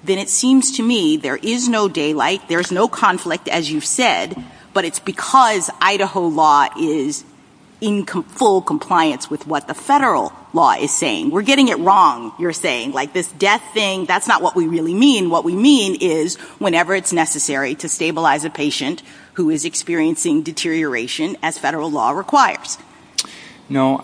then it seems to me there is no daylight, there's no conflict, as you've said, but it's because Idaho law is in full compliance with what the federal law is saying. We're getting it wrong, you're saying. Like this death thing, that's not what we really mean. What we mean is whenever it's necessary to stabilize a patient who is experiencing deterioration as federal law requires. No,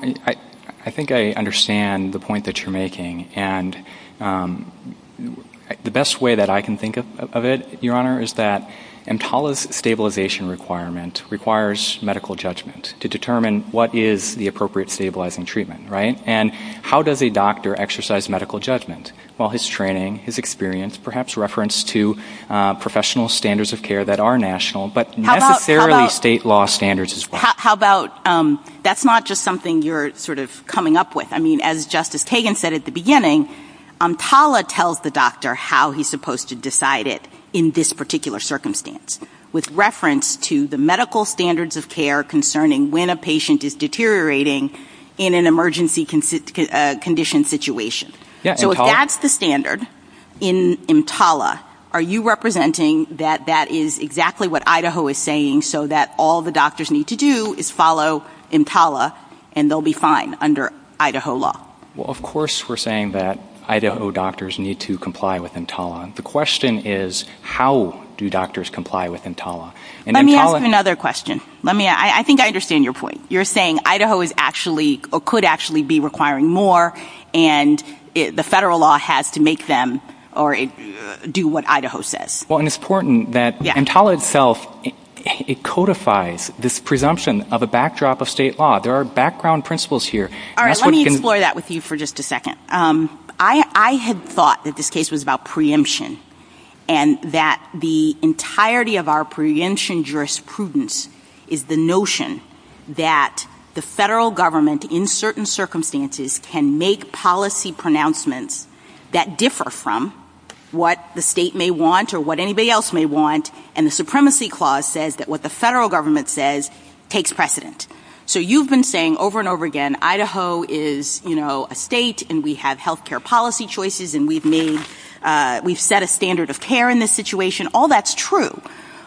I think I understand the point that you're making, and the best way that I can think of it, Your Honor, is that EMTALA's stabilization requirement requires medical judgment to determine what is the appropriate stabilizing treatment, right? And how does a doctor exercise medical judgment? Well, his training, his experience, is perhaps referenced to professional standards of care that are national, but necessarily state law standards as well. How about, that's not just something you're sort of coming up with. I mean, as Justice Kagan said at the beginning, EMTALA tells the doctor how he's supposed to decide it in this particular circumstance, with reference to the medical standards of care concerning when a patient is deteriorating in an emergency condition situation. So if that's the standard in EMTALA, are you representing that that is exactly what Idaho is saying so that all the doctors need to do is follow EMTALA and they'll be fine under Idaho law? Well, of course we're saying that Idaho doctors need to comply with EMTALA. The question is how do doctors comply with EMTALA? Let me ask you another question. I think I understand your point. You're saying Idaho could actually be requiring more and the federal law has to make them do what Idaho says. Well, and it's important that EMTALA itself, it codifies this presumption of a backdrop of state law. There are background principles here. All right, let me explore that with you for just a second. I had thought that this case was about preemption and that the entirety of our preemption jurisprudence is the notion that the federal government, in certain circumstances, can make policy pronouncements that differ from what the state may want or what anybody else may want, and the supremacy clause says that what the federal government says takes precedent. So you've been saying over and over again, Idaho is a state and we have health care policy choices and we've set a standard of care in this situation. All that's true.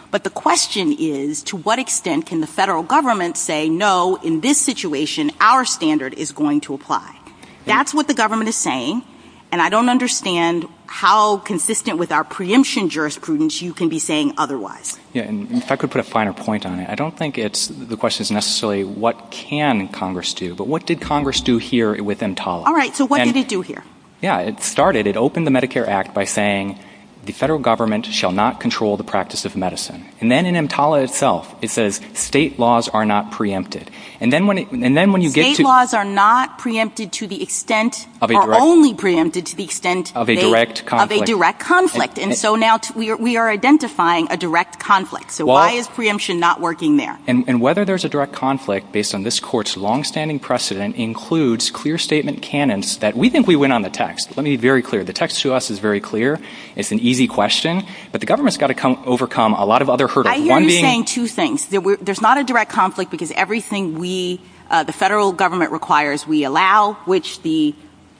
But the question is to what extent can the federal government say, no, in this situation, our standard is going to apply? That's what the government is saying and I don't understand how consistent with our preemption jurisprudence you can be saying otherwise. If I could put a finer point on it, I don't think the question is necessarily what can Congress do, but what did Congress do here with EMTALA? All right, so what did it do here? Yeah, it started, it opened the Medicare Act by saying the federal government shall not control the practice of medicine. And then in EMTALA itself it says state laws are not preempted. State laws are not preempted to the extent or only preempted to the extent of a direct conflict. And so now we are identifying a direct conflict. So why is preemption not working there? And whether there's a direct conflict based on this court's long-standing precedent includes clear statement canons that we think we went on the text. Let me be very clear. The text to us is very clear. It's an easy question. But the government's got to overcome a lot of other hurdles. I hear you saying two things. There's not a direct conflict because everything we, the federal government requires, we allow, which the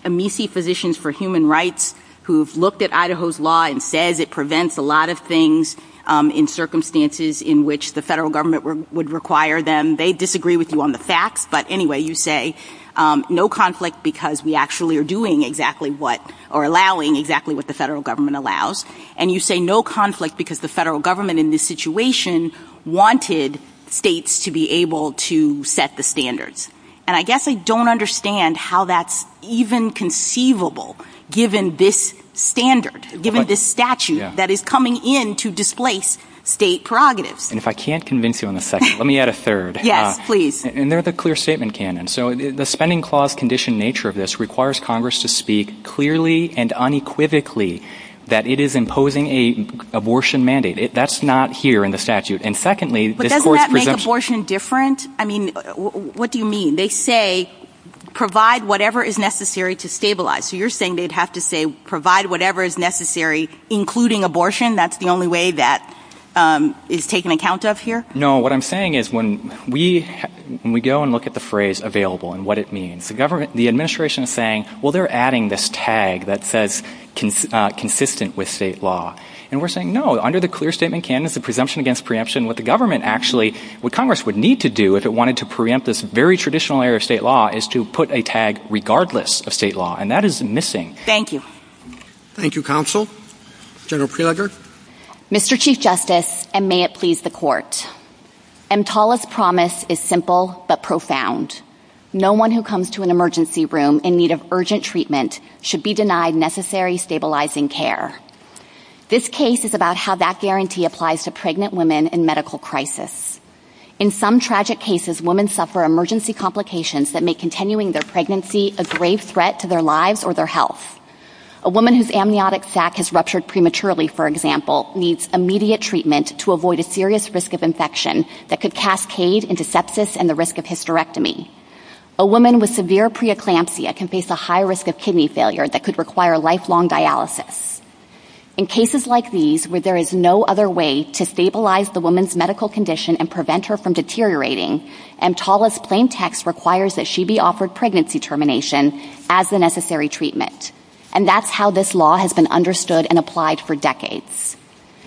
Amici Physicians for Human Rights who've looked at Idaho's law and says it prevents a lot of things in circumstances in which the federal government would require them, they disagree with you on the facts. But anyway, you say no conflict because we actually are doing exactly what, or allowing exactly what the federal government allows. And you say no conflict because the federal government in this situation wanted states to be able to set the standards. And I guess I don't understand how that's even conceivable given this standard, given this statute that is coming in to displace state prerogatives. And if I can't convince you on this, let me add a third. Yeah, please. And there's a clear statement canon. So the spending clause condition nature of this requires Congress to speak clearly and unequivocally that it is imposing an abortion mandate. That's not here in the statute. But doesn't that make abortion different? I mean, what do you mean? They say provide whatever is necessary to stabilize. So you're saying they'd have to say provide whatever is necessary, including abortion? That's the only way that is taken account of here? No, what I'm saying is when we go and look at the phrase available and what it means, the administration is saying, well, they're adding this tag that says consistent with state law. And we're saying, no, under the clear statement canon, it's a presumption against preemption. What the government actually, what Congress would need to do if it wanted to preempt this very traditional area of state law is to put a tag regardless of state law, and that is missing. Thank you. Thank you, Counsel. General Preliger? Mr. Chief Justice, and may it please the Court, EMTALA's promise is simple but profound. No one who comes to an emergency room in need of urgent treatment should be denied necessary stabilizing care. This case is about how that guarantee applies to pregnant women in medical crisis. In some tragic cases, women suffer emergency complications that make continuing their pregnancy a grave threat to their lives or their health. A woman whose amniotic sac has ruptured prematurely, for example, needs immediate treatment to avoid a serious risk of infection that could cascade into sepsis and the risk of hysterectomy. A woman with severe preeclampsia can face a high risk of kidney failure that could require lifelong dialysis. In cases like these where there is no other way to stabilize the woman's medical condition and prevent her from deteriorating, EMTALA's plain text requires that she be offered pregnancy termination as the necessary treatment, and that's how this law has been understood and applied for decades.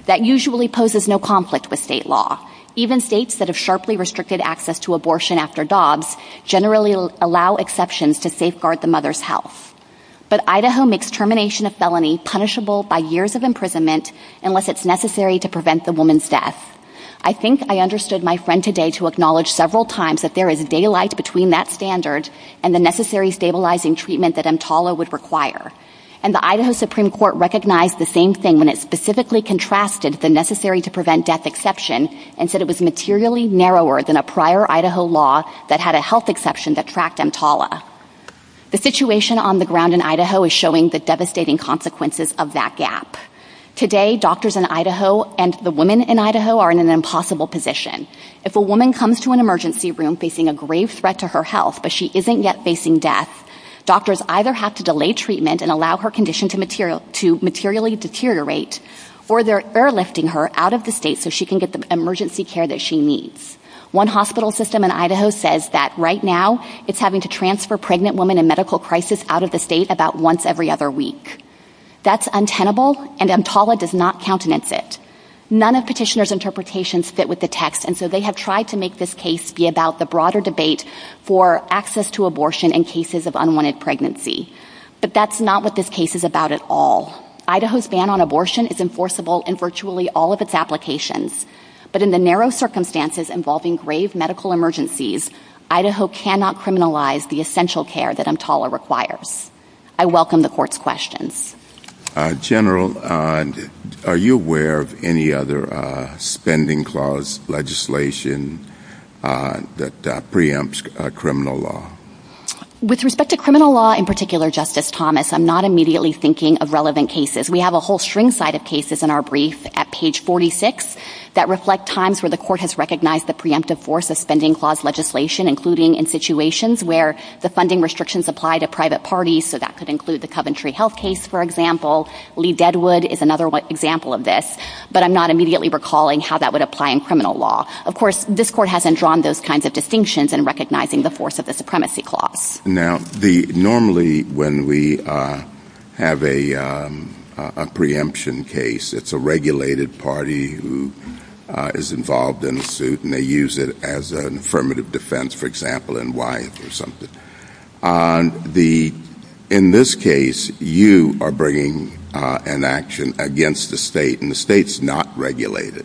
That usually poses no conflict with state law. Even states that have sharply restricted access to abortion after dogs generally allow exceptions to safeguard the mother's health. But Idaho makes termination of felony punishable by years of imprisonment unless it's necessary to prevent the woman's death. I think I understood my friend today to acknowledge several times that there is daylight between that standard and the necessary stabilizing treatment that EMTALA would require. And the Idaho Supreme Court recognized the same thing when it specifically contrasted the necessary-to-prevent-death exception and said it was materially narrower than a prior Idaho law that had a health exception that tracked EMTALA. The situation on the ground in Idaho is showing the devastating consequences of that gap. Today, doctors in Idaho and the women in Idaho are in an impossible position. If a woman comes to an emergency room facing a grave threat to her health but she isn't yet facing death, doctors either have to delay treatment and allow her condition to materially deteriorate, or they're airlifting her out of the state so she can get the emergency care that she needs. One hospital system in Idaho says that right now it's having to transfer pregnant women in medical crisis out of the state about once every other week. That's untenable, and EMTALA does not countenance it. None of petitioners' interpretations fit with the text, and so they have tried to make this case be about the broader debate for access to abortion in cases of unwanted pregnancy. But that's not what this case is about at all. Idaho's ban on abortion is enforceable in virtually all of its applications. But in the narrow circumstances involving grave medical emergencies, Idaho cannot criminalize the essential care that EMTALA requires. I welcome the court's questions. General, are you aware of any other spending clause legislation that preempts criminal law? With respect to criminal law, in particular, Justice Thomas, I'm not immediately thinking of relevant cases. We have a whole string side of cases in our brief at page 46 that reflect times where the court has recognized the preemptive force of spending clause legislation, including in situations where the funding restrictions apply to private parties, so that could include the Coventry Health case, for example. Lee Deadwood is another example of this, but I'm not immediately recalling how that would apply in criminal law. Of course, this court hasn't drawn those kinds of distinctions in recognizing the force of the supremacy clause. Now, normally when we have a preemption case, it's a regulated party who is involved in a suit and they use it as an affirmative defense, for example, in Wyatt or something. In this case, you are bringing an action against the state, and the state's not regulated.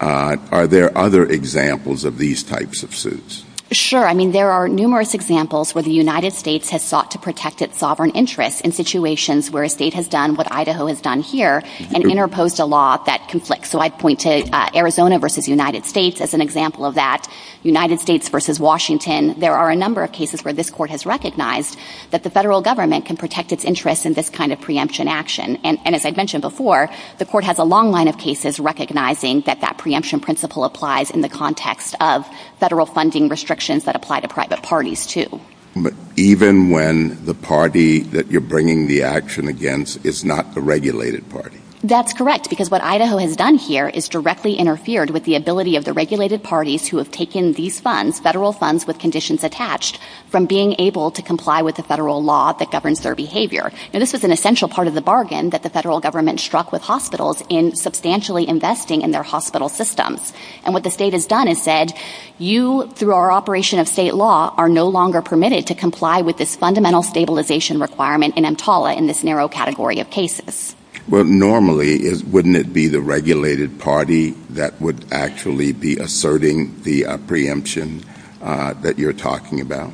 Are there other examples of these types of suits? Sure. I mean, there are numerous examples where the United States has sought to protect its sovereign interests in situations where a state has done what Idaho has done here and interposed a law that conflicts. So I'd point to Arizona versus United States as an example of that. United States versus Washington. There are a number of cases where this court has recognized that the federal government can protect its interests in this kind of preemption action. And as I mentioned before, the court has a long line of cases recognizing that that preemption principle applies in the context of federal funding restrictions that apply to private parties, too. But even when the party that you're bringing the action against is not the regulated party? That's correct, because what Idaho has done here is directly interfered with the ability of the regulated parties who have taken these funds, federal funds with conditions attached, from being able to comply with the federal law that governs their behavior. Now, this is an essential part of the bargain that the federal government struck with hospitals in substantially investing in their hospital systems. And what the state has done is said, you, through our operation of state law, are no longer permitted to comply with this fundamental stabilization requirement in EMTALA in this narrow category of cases. Well, normally, wouldn't it be the regulated party that would actually be asserting the preemption that you're talking about?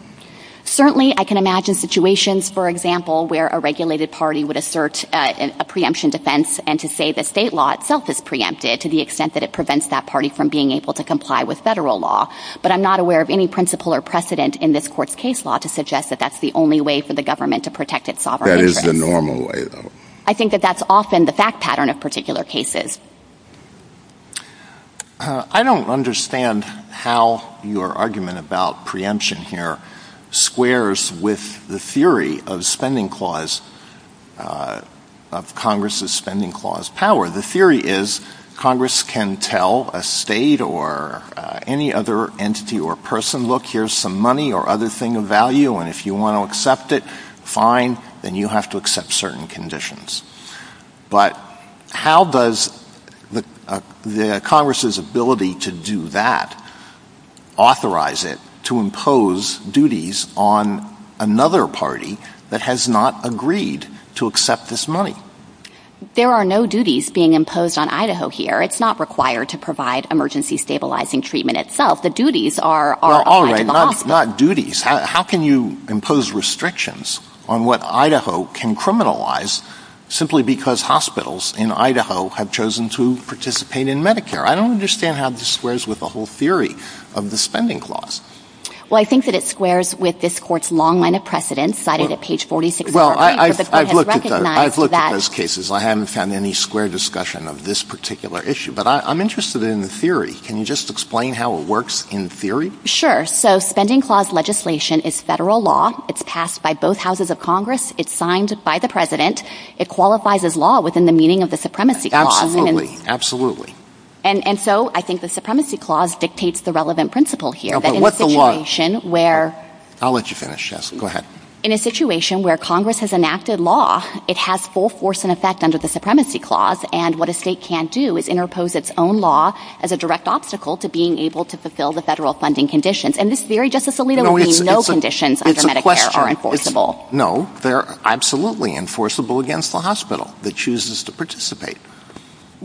Certainly, I can imagine situations, for example, where a regulated party would assert a preemption defense and to say that state law itself is preempted to the extent that it prevents that party from being able to comply with federal law. But I'm not aware of any principle or precedent in this court's case law to suggest that that's the only way for the government to protect its sovereignty. That is the normal way, though. I think that that's often the fact pattern of particular cases. I don't understand how your argument about preemption here squares with the theory of spending clause, of Congress's spending clause power. The theory is Congress can tell a state or any other entity or person, look, here's some money or other thing of value, and if you want to accept it, fine, then you have to accept certain conditions. But how does Congress's ability to do that authorize it to impose duties on another party that has not agreed to accept this money? There are no duties being imposed on Idaho here. It's not required to provide emergency stabilizing treatment itself. The duties are kind of off. All right, not duties. How can you impose restrictions on what Idaho can criminalize simply because hospitals in Idaho have chosen to participate in Medicare? I don't understand how this squares with the whole theory of the spending clause. Well, I think that it squares with this court's long line of precedent cited at page 46 of our paper. I've looked at those cases. I haven't found any square discussion of this particular issue. But I'm interested in the theory. Can you just explain how it works in theory? Sure. So spending clause legislation is federal law. It's passed by both houses of Congress. It's signed by the president. It qualifies as law within the meaning of the supremacy clause. Absolutely, absolutely. And so I think the supremacy clause dictates the relevant principle here. What the law? I'll let you finish, Jessica. Go ahead. In a situation where Congress has enacted law, it has full force and effect under the supremacy clause. And what a state can't do is interpose its own law as a direct obstacle to being able to fulfill the federal funding conditions. And this very justicially doesn't mean no conditions under Medicare are enforceable. No, they're absolutely enforceable against the hospital that chooses to participate.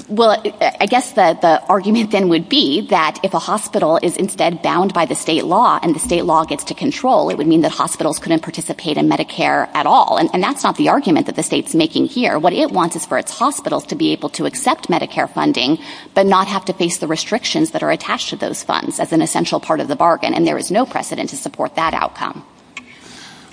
Well, I guess the argument then would be that if a hospital is instead bound by the state law and the state law gets to control, it would mean that hospitals couldn't participate in Medicare at all. And that's not the argument that the state's making here. What it wants is for its hospitals to be able to accept Medicare funding but not have to face the restrictions that are attached to those funds as an essential part of the bargain. And there is no precedent to support that outcome.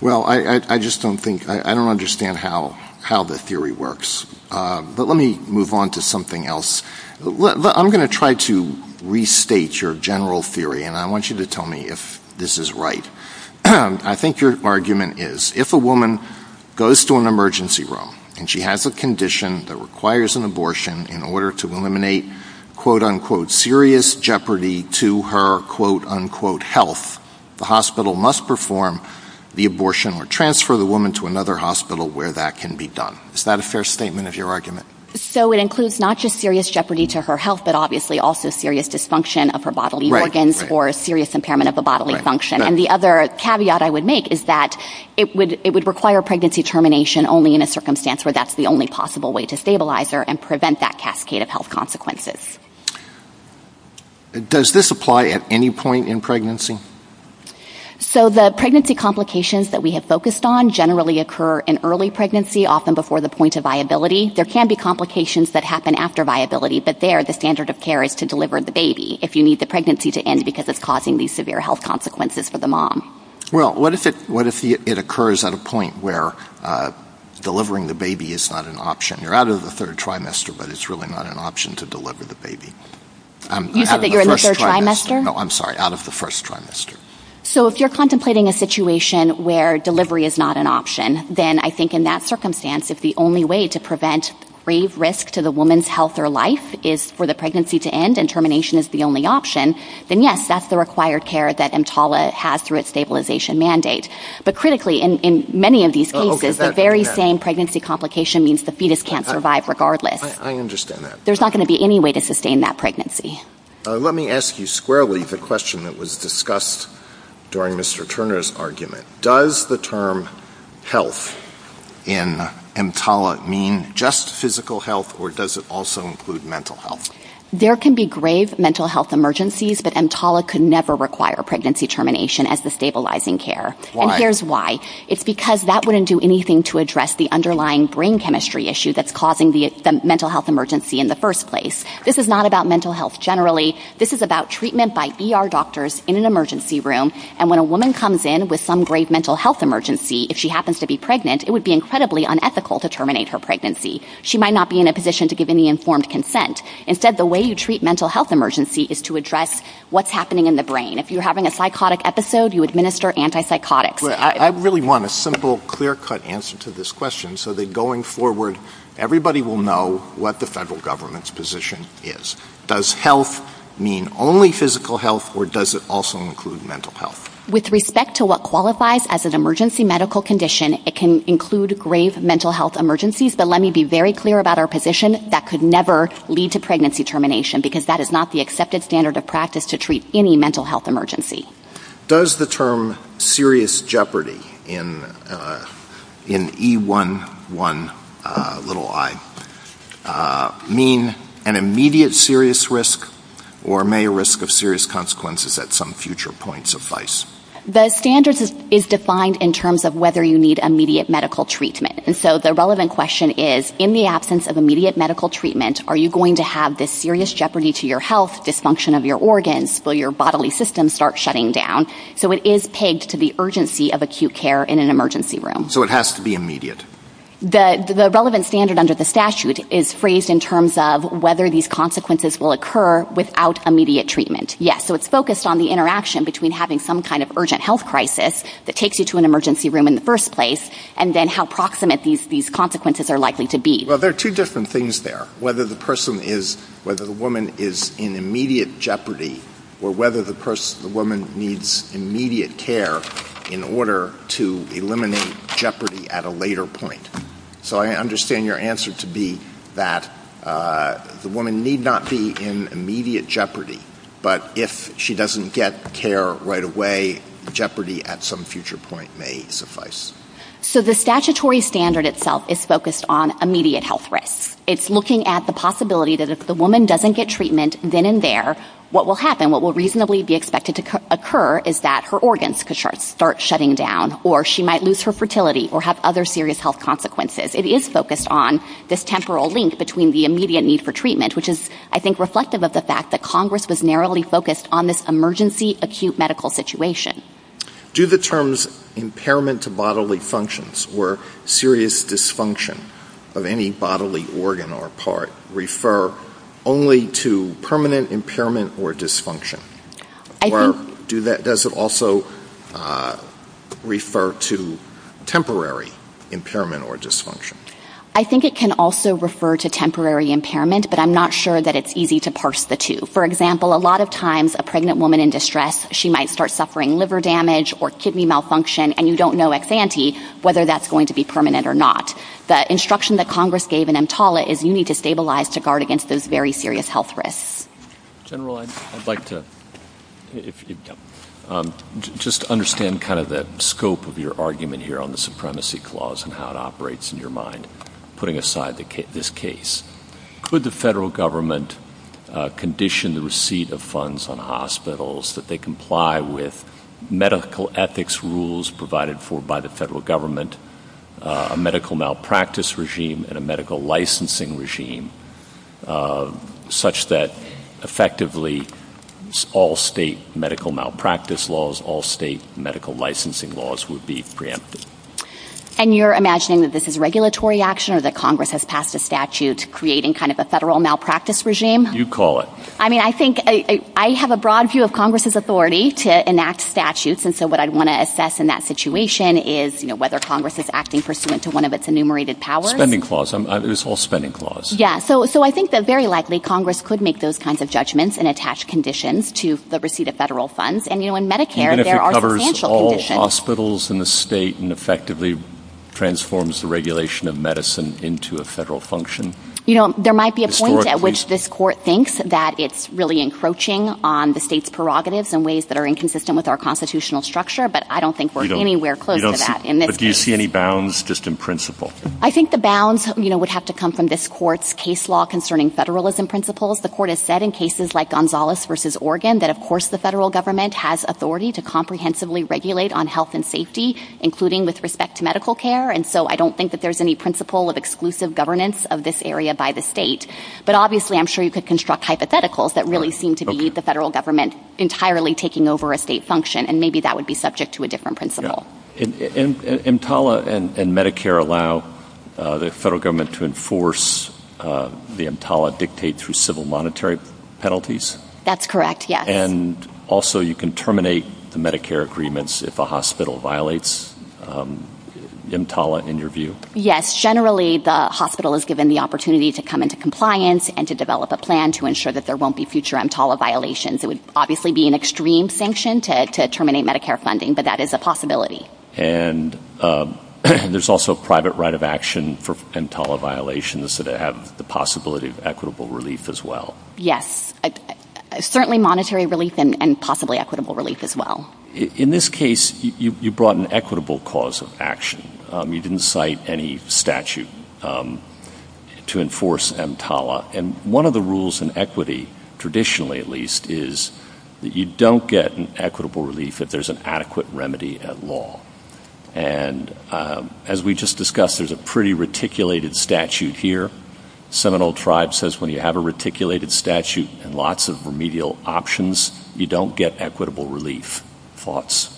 Well, I just don't think – I don't understand how the theory works. But let me move on to something else. I'm going to try to restate your general theory, and I want you to tell me if this is right. I think your argument is if a woman goes to an emergency room and she has a condition that requires an abortion in order to eliminate quote-unquote serious jeopardy to her quote-unquote health, the hospital must perform the abortion or transfer the woman to another hospital where that can be done. Is that a fair statement of your argument? So it includes not just serious jeopardy to her health but obviously also serious dysfunction of her bodily organs or a serious impairment of her bodily function. And the other caveat I would make is that it would require pregnancy termination only in a circumstance where that's the only possible way to stabilize her and prevent that cascade of health consequences. Does this apply at any point in pregnancy? So the pregnancy complications that we have focused on generally occur in early pregnancy, often before the point of viability. There can be complications that happen after viability, but there the standard of care is to deliver the baby if you need the pregnancy to end because it's causing these severe health consequences for the mom. Well, what if it occurs at a point where delivering the baby is not an option? You're out of the third trimester, but it's really not an option to deliver the baby. You said that you're in the third trimester? No, I'm sorry, out of the first trimester. So if you're contemplating a situation where delivery is not an option, then I think in that circumstance it's the only way to prevent If the primary risk to the woman's health or life is for the pregnancy to end and termination is the only option, then yes, that's the required care that EMTALA has through its stabilization mandate. But critically, in many of these cases, the very same pregnancy complication means the fetus can't survive regardless. I understand that. There's not going to be any way to sustain that pregnancy. Let me ask you squarely the question that was discussed during Mr. Turner's argument. Does the term health in EMTALA mean just physical health or does it also include mental health? There can be grave mental health emergencies, but EMTALA could never require pregnancy termination as the stabilizing care. Why? And here's why. It's because that wouldn't do anything to address the underlying brain chemistry issue that's causing the mental health emergency in the first place. This is not about mental health generally. This is about treatment by ER doctors in an emergency room, and when a woman comes in with some grave mental health emergency, if she happens to be pregnant, it would be incredibly unethical to terminate her pregnancy. She might not be in a position to give any informed consent. Instead, the way you treat mental health emergency is to address what's happening in the brain. If you're having a psychotic episode, you administer antipsychotics. I really want a simple, clear-cut answer to this question so that going forward, everybody will know what the federal government's position is. Does health mean only physical health, or does it also include mental health? With respect to what qualifies as an emergency medical condition, it can include grave mental health emergencies, but let me be very clear about our position. That could never lead to pregnancy termination because that is not the accepted standard of practice to treat any mental health emergency. Does the term serious jeopardy in E11i mean an immediate serious risk, or may a risk of serious consequences at some future point suffice? The standard is defined in terms of whether you need immediate medical treatment. So the relevant question is, in the absence of immediate medical treatment, are you going to have this serious jeopardy to your health, dysfunction of your organs, will your bodily system start shutting down? So it is pegged to the urgency of acute care in an emergency room. So it has to be immediate. The relevant standard under the statute is phrased in terms of whether these consequences will occur without immediate treatment. Yes, so it's focused on the interaction between having some kind of urgent health crisis that takes you to an emergency room in the first place, and then how proximate these consequences are likely to be. Well, there are two different things there. One is whether the woman is in immediate jeopardy, or whether the woman needs immediate care in order to eliminate jeopardy at a later point. So I understand your answer to be that the woman need not be in immediate jeopardy, but if she doesn't get care right away, jeopardy at some future point may suffice. So the statutory standard itself is focused on immediate health risk. It's looking at the possibility that if the woman doesn't get treatment then and there, what will happen, what will reasonably be expected to occur, is that her organs could start shutting down, or she might lose her fertility, or have other serious health consequences. It is focused on this temporal link between the immediate need for treatment, which is, I think, reflective of the fact that Congress was narrowly focused on this emergency acute medical situation. Do the terms impairment to bodily functions or serious dysfunction of any bodily organ or part refer only to permanent impairment or dysfunction? Or does it also refer to temporary impairment or dysfunction? I think it can also refer to temporary impairment, but I'm not sure that it's easy to parse the two. For example, a lot of times a pregnant woman in distress, she might start suffering liver damage or kidney malfunction, and you don't know ex-ante whether that's going to be permanent or not. The instruction that Congress gave in EMTALA is you need to stabilize to guard against those very serious health risks. General, I'd like to just understand kind of the scope of your argument here on the supremacy clause and how it operates in your mind, putting aside this case. Could the federal government condition the receipt of funds on hospitals that they comply with medical ethics rules provided for by the federal government, a medical malpractice regime and a medical licensing regime, such that effectively all state medical malpractice laws, all state medical licensing laws would be preempted? And you're imagining that this is regulatory action or that Congress has passed a statute creating kind of a federal malpractice regime? You call it. I mean, I think I have a broad view of Congress's authority to enact statutes, and so what I'd want to assess in that situation is, you know, whether Congress is acting pursuant to one of its enumerated powers. Spending clause. It's all spending clause. Yeah, so I think that very likely Congress could make those kinds of judgments and attach conditions to the receipt of federal funds. And, you know, in Medicare there are financial conditions. Even if it covers all hospitals in the state and effectively transforms the regulation of medicine into a federal function. You know, there might be a point at which this court thinks that it's really encroaching on the state's prerogatives in ways that are inconsistent with our constitutional structure, but I don't think we're anywhere close to that. But do you see any bounds just in principle? I think the bounds, you know, would have to come from this court's case law concerning federalism principles. The court has said in cases like Gonzalez v. Oregon that, of course, the federal government has authority to comprehensively regulate on health and safety, including with respect to medical care, and so I don't think that there's any principle of exclusive governance of this area by the state. But obviously I'm sure you could construct hypotheticals that really seem to be the federal government entirely taking over a state function, and maybe that would be subject to a different principle. And EMTALA and Medicare allow the federal government to enforce the EMTALA dictate through civil monetary penalties? That's correct, yes. And also you can terminate the Medicare agreements if a hospital violates EMTALA in your view? Yes, generally the hospital is given the opportunity to come into compliance and to develop a plan to ensure that there won't be future EMTALA violations. It would obviously be an extreme sanction to terminate Medicare funding, but that is a possibility. And there's also a private right of action for EMTALA violations that have the possibility of equitable relief as well. Yes, certainly monetary relief and possibly equitable relief as well. In this case, you brought an equitable cause of action. You didn't cite any statute to enforce EMTALA. And one of the rules in equity, traditionally at least, is that you don't get an equitable relief if there's an adequate remedy at law. And as we just discussed, there's a pretty reticulated statute here. The Seminole Tribe says when you have a reticulated statute and lots of remedial options, you don't get equitable relief. Thoughts?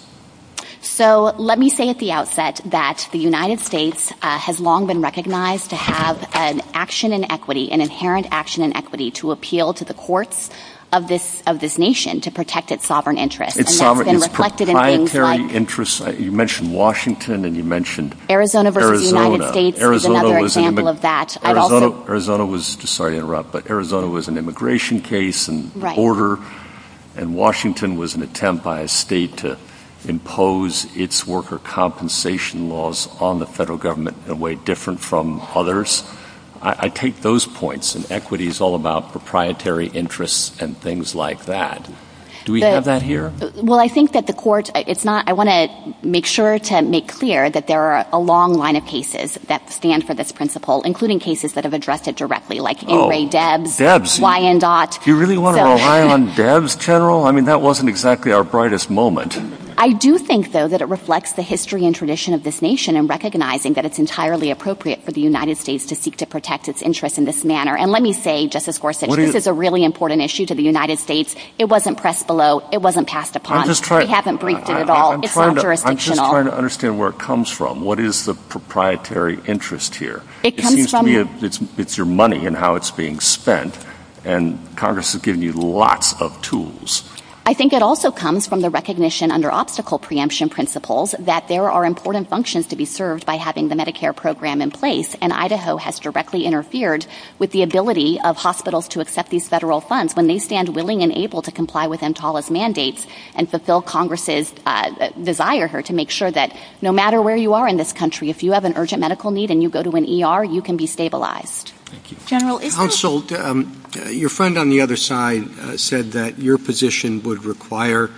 So let me say at the outset that the United States has long been recognized to have an action in equity, an inherent action in equity, to appeal to the courts of this nation to protect its sovereign interests. It's proprietary interests. You mentioned Washington and you mentioned Arizona. The United States is another example of that. Arizona was an immigration case and border, and Washington was an attempt by a state to impose its worker compensation laws on the federal government in a way different from others. I take those points, and equity is all about proprietary interests and things like that. Do we have that here? Well, I think that the courts, it's not. I want to make sure to make clear that there are a long line of cases that stand for this principle, including cases that have addressed it directly, like Ingray Debs, Wyandotte. You really want to rely on Debs, General? I mean, that wasn't exactly our brightest moment. I do think, though, that it reflects the history and tradition of this nation in recognizing that it's entirely appropriate for the United States to seek to protect its interests in this manner. And let me say, Justice Gorsuch, this is a really important issue to the United States. It wasn't pressed below. It wasn't passed upon. We haven't briefed it at all. It's not jurisdictional. I'm just trying to understand where it comes from. What is the proprietary interest here? It's your money and how it's being spent, and Congress has given you lots of tools. I think it also comes from the recognition under obstacle preemption principles that there are important functions to be served by having the Medicare program in place, and Idaho has directly interfered with the ability of hospitals to accept these federal funds when they stand willing and able to comply with EMTALA's mandates and fulfill Congress's desire here to make sure that no matter where you are in this country, if you have an urgent medical need and you go to an ER, you can be stabilized. Counsel, your friend on the other side said that your position would require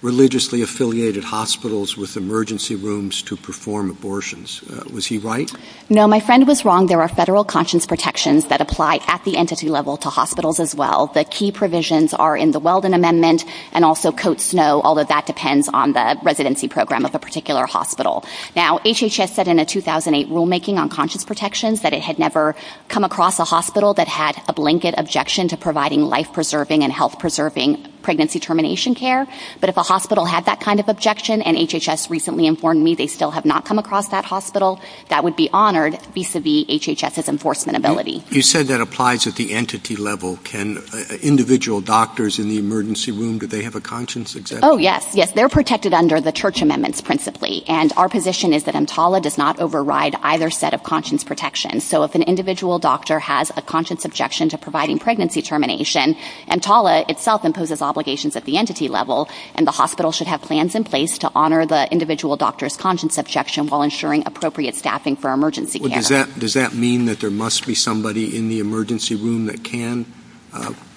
religiously affiliated hospitals with emergency rooms to perform abortions. Was he right? No, my friend was wrong. There are federal conscience protections that apply at the entity level to hospitals as well. The key provisions are in the Weldon Amendment and also Cote Snow, although that depends on the residency program of a particular hospital. Now, HHS said in a 2008 rulemaking on conscience protections that it had never come across a hospital that had a blanket objection to providing life-preserving and health-preserving pregnancy termination care, but if a hospital had that kind of objection, and HHS recently informed me they still have not come across that hospital, that would be honored vis-à-vis HHS's enforcement ability. You said that applies at the entity level. Can individual doctors in the emergency room, do they have a conscience exemption? Oh, yes. They're protected under the church amendments principally, and our position is that EMTALA does not override either set of conscience protections. So if an individual doctor has a conscience objection to providing pregnancy termination, EMTALA itself imposes obligations at the entity level, and the hospital should have plans in place to honor the individual doctor's conscience objection while ensuring appropriate staffing for emergency care. Does that mean that there must be somebody in the emergency room that can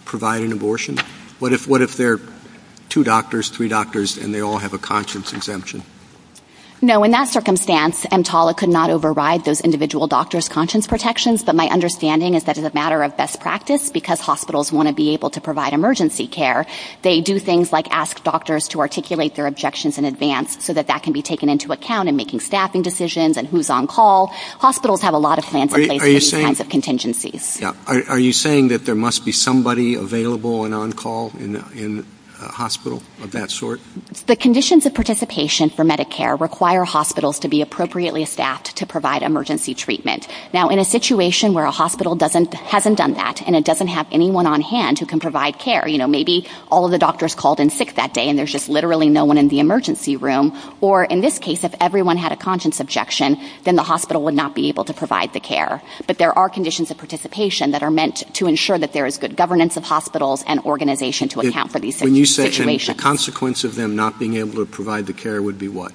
provide an abortion? What if there are two doctors, three doctors, and they all have a conscience exemption? No. In that circumstance, EMTALA could not override those individual doctors' conscience protections, but my understanding is that as a matter of best practice, because hospitals want to be able to provide emergency care, they do things like ask doctors to articulate their objections in advance so that that can be taken into account in making staffing decisions and who's on call. Hospitals have a lot of plans in place for these kinds of contingencies. Are you saying that there must be somebody available and on call in a hospital of that sort? The conditions of participation for Medicare require hospitals to be appropriately staffed to provide emergency treatment. Now, in a situation where a hospital hasn't done that and it doesn't have anyone on hand who can provide care, you know, maybe all of the doctors called in sick that day and there's just literally no one in the emergency room, or in this case, if everyone had a conscience objection, then the hospital would not be able to provide the care. But there are conditions of participation that are meant to ensure that there is good governance of hospitals and organization to account for these situations. When you say it's a consequence of them not being able to provide the care, it would be what?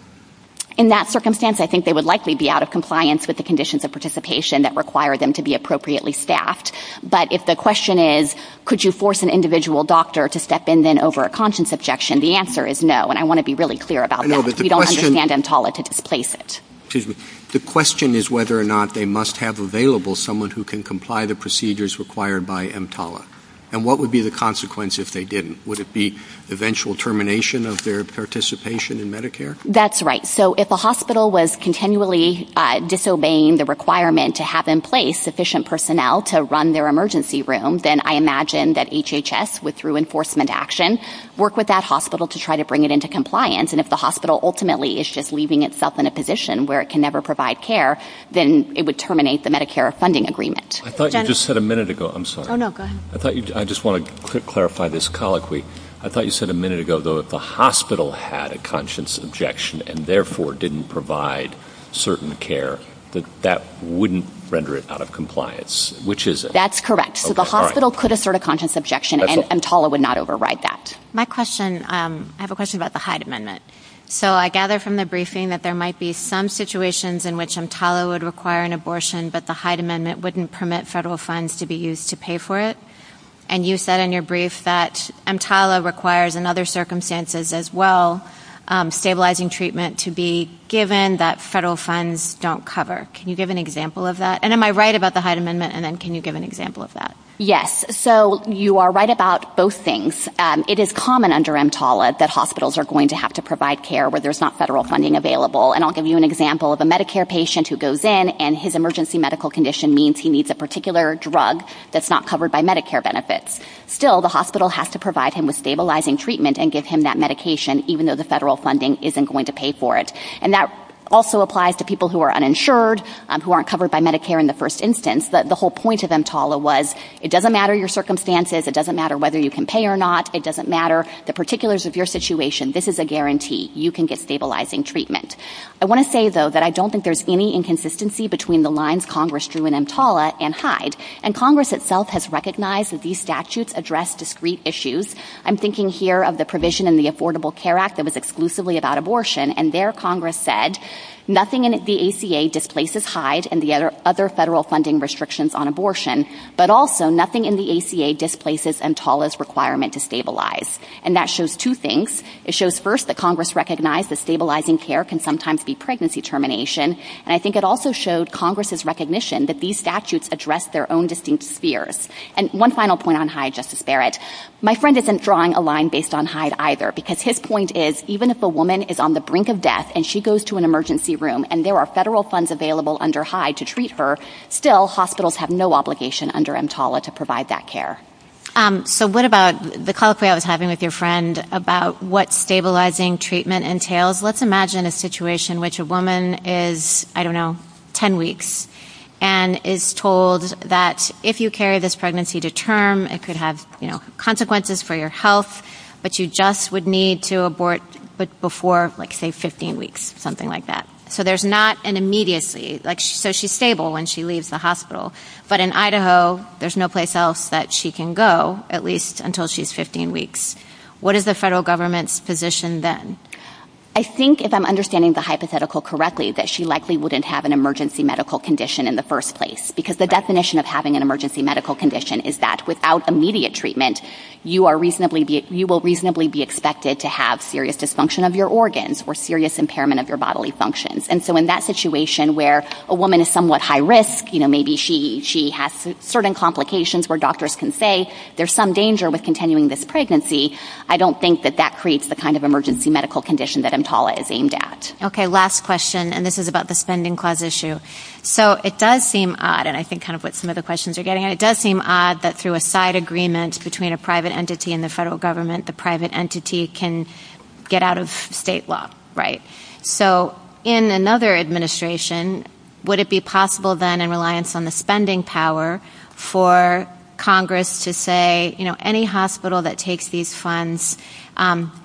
In that circumstance, I think they would likely be out of compliance with the conditions of participation that require them to be appropriately staffed. But if the question is, could you force an individual doctor to step in then over a conscience objection, the answer is no, and I want to be really clear about that. We don't understand EMTALA to displace it. Excuse me. The question is whether or not they must have available someone who can comply the procedures required by EMTALA. And what would be the consequence if they didn't? Would it be eventual termination of their participation in Medicare? That's right. So if a hospital was continually disobeying the requirement to have in place sufficient personnel to run their emergency room, then I imagine that HHS would, through enforcement action, work with that hospital to try to bring it into compliance. And if the hospital ultimately is just leaving itself in a position where it can never provide care, then it would terminate the Medicare funding agreement. I thought you just said a minute ago. I'm sorry. Oh, no, go ahead. I just want to clarify this colloquy. I thought you said a minute ago, though, if the hospital had a conscience objection and therefore didn't provide certain care, that that wouldn't render it out of compliance. Which is it? That's correct. So the hospital could assert a conscience objection, and EMTALA would not override that. My question, I have a question about the Hyde Amendment. So I gather from the briefing that there might be some situations in which EMTALA would require an abortion, but the Hyde Amendment wouldn't permit federal funds to be used to pay for it. And you said in your brief that EMTALA requires, in other circumstances as well, stabilizing treatment to be given that federal funds don't cover. Can you give an example of that? And am I right about the Hyde Amendment? And then can you give an example of that? Yes. So you are right about both things. It is common under EMTALA that hospitals are going to have to provide care where there's not federal funding available. And I'll give you an example of a Medicare patient who goes in and his emergency medical condition means he needs a particular drug that's not covered by Medicare benefits. Still, the hospital has to provide him with stabilizing treatment and give him that medication, even though the federal funding isn't going to pay for it. And that also applies to people who are uninsured, who aren't covered by Medicare in the first instance. The whole point of EMTALA was it doesn't matter your circumstances. It doesn't matter whether you can pay or not. It doesn't matter the particulars of your situation. This is a guarantee. You can get stabilizing treatment. I want to say, though, that I don't think there's any inconsistency between the lines Congress drew in EMTALA and Hyde. And Congress itself has recognized that these statutes address discrete issues. I'm thinking here of the provision in the Affordable Care Act that was exclusively about abortion. And there Congress said nothing in the ACA displaces Hyde and the other federal funding restrictions on abortion, but also nothing in the ACA displaces EMTALA's requirement to stabilize. And that shows two things. It shows, first, that Congress recognized that stabilizing care can sometimes be pregnancy termination. And I think it also showed Congress's recognition that these statutes address their own distinct fears. And one final point on Hyde, Justice Barrett. My friend isn't drawing a line based on Hyde either, because his point is even if a woman is on the brink of death and she goes to an emergency room and there are federal funds available under Hyde to treat her, still hospitals have no obligation under EMTALA to provide that care. So what about the call I was having with your friend about what stabilizing treatment entails? Let's imagine a situation in which a woman is, I don't know, 10 weeks, and is told that if you carry this pregnancy to term it could have consequences for your health, but you just would need to abort before, say, 15 weeks, something like that. So there's not an immediacy. So she's stable when she leaves the hospital, but in Idaho there's no place else that she can go, at least until she's 15 weeks. What is the federal government's position then? I think, if I'm understanding the hypothetical correctly, that she likely wouldn't have an emergency medical condition in the first place, because the definition of having an emergency medical condition is that without immediate treatment you will reasonably be expected to have serious dysfunction of your organs or serious impairment of your bodily functions. And so in that situation where a woman is somewhat high risk, maybe she has certain complications where doctors can say there's some danger with continuing this pregnancy, I don't think that that creates the kind of emergency medical condition that EMTALA is aimed at. Okay, last question, and this is about the spending clause issue. So it does seem odd, and I think kind of what some of the questions are getting at, but it does seem odd that through a side agreement between a private entity and the federal government the private entity can get out of state law, right? So in another administration, would it be possible then in reliance on the spending power for Congress to say, you know, any hospital that takes these funds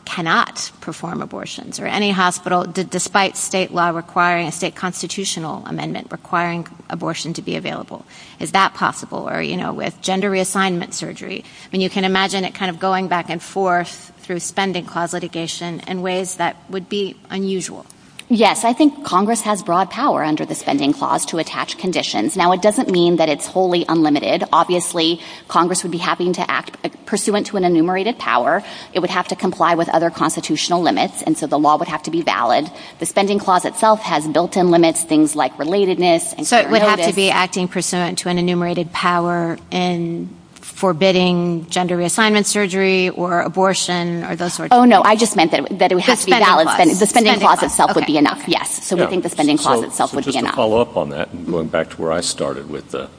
cannot perform abortions, or any hospital, despite state law requiring a state constitutional amendment, requiring abortion to be available. Is that possible, or, you know, with gender reassignment surgery? I mean, you can imagine it kind of going back and forth through spending clause litigation in ways that would be unusual. Yes, I think Congress has broad power under the spending clause to attach conditions. Now, it doesn't mean that it's wholly unlimited. Obviously, Congress would be having to act pursuant to an enumerated power. It would have to comply with other constitutional limits, and so the law would have to be valid. The spending clause itself has built-in limits, things like relatedness. So it would have to be acting pursuant to an enumerated power and forbidding gender reassignment surgery or abortion or those sorts of things? Oh, no, I just meant that it would have to be valid. The spending clause itself would be enough, yes. So we think the spending clause itself would be enough. So just to follow up on that and going back to where I started with the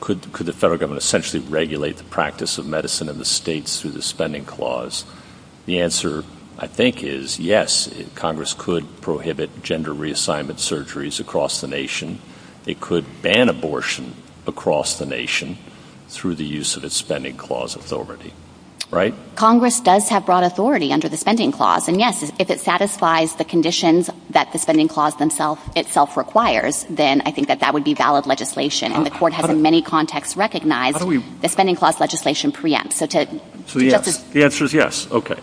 could the federal government essentially regulate the practice of medicine in the states through the spending clause? The answer, I think, is yes, Congress could prohibit gender reassignment surgeries across the nation. It could ban abortion across the nation through the use of its spending clause authority, right? Congress does have broad authority under the spending clause. And, yes, if it satisfies the conditions that the spending clause itself requires, then I think that that would be valid legislation. And the Court has in many contexts recognized the spending clause legislation preempts. So the answer is yes. Okay.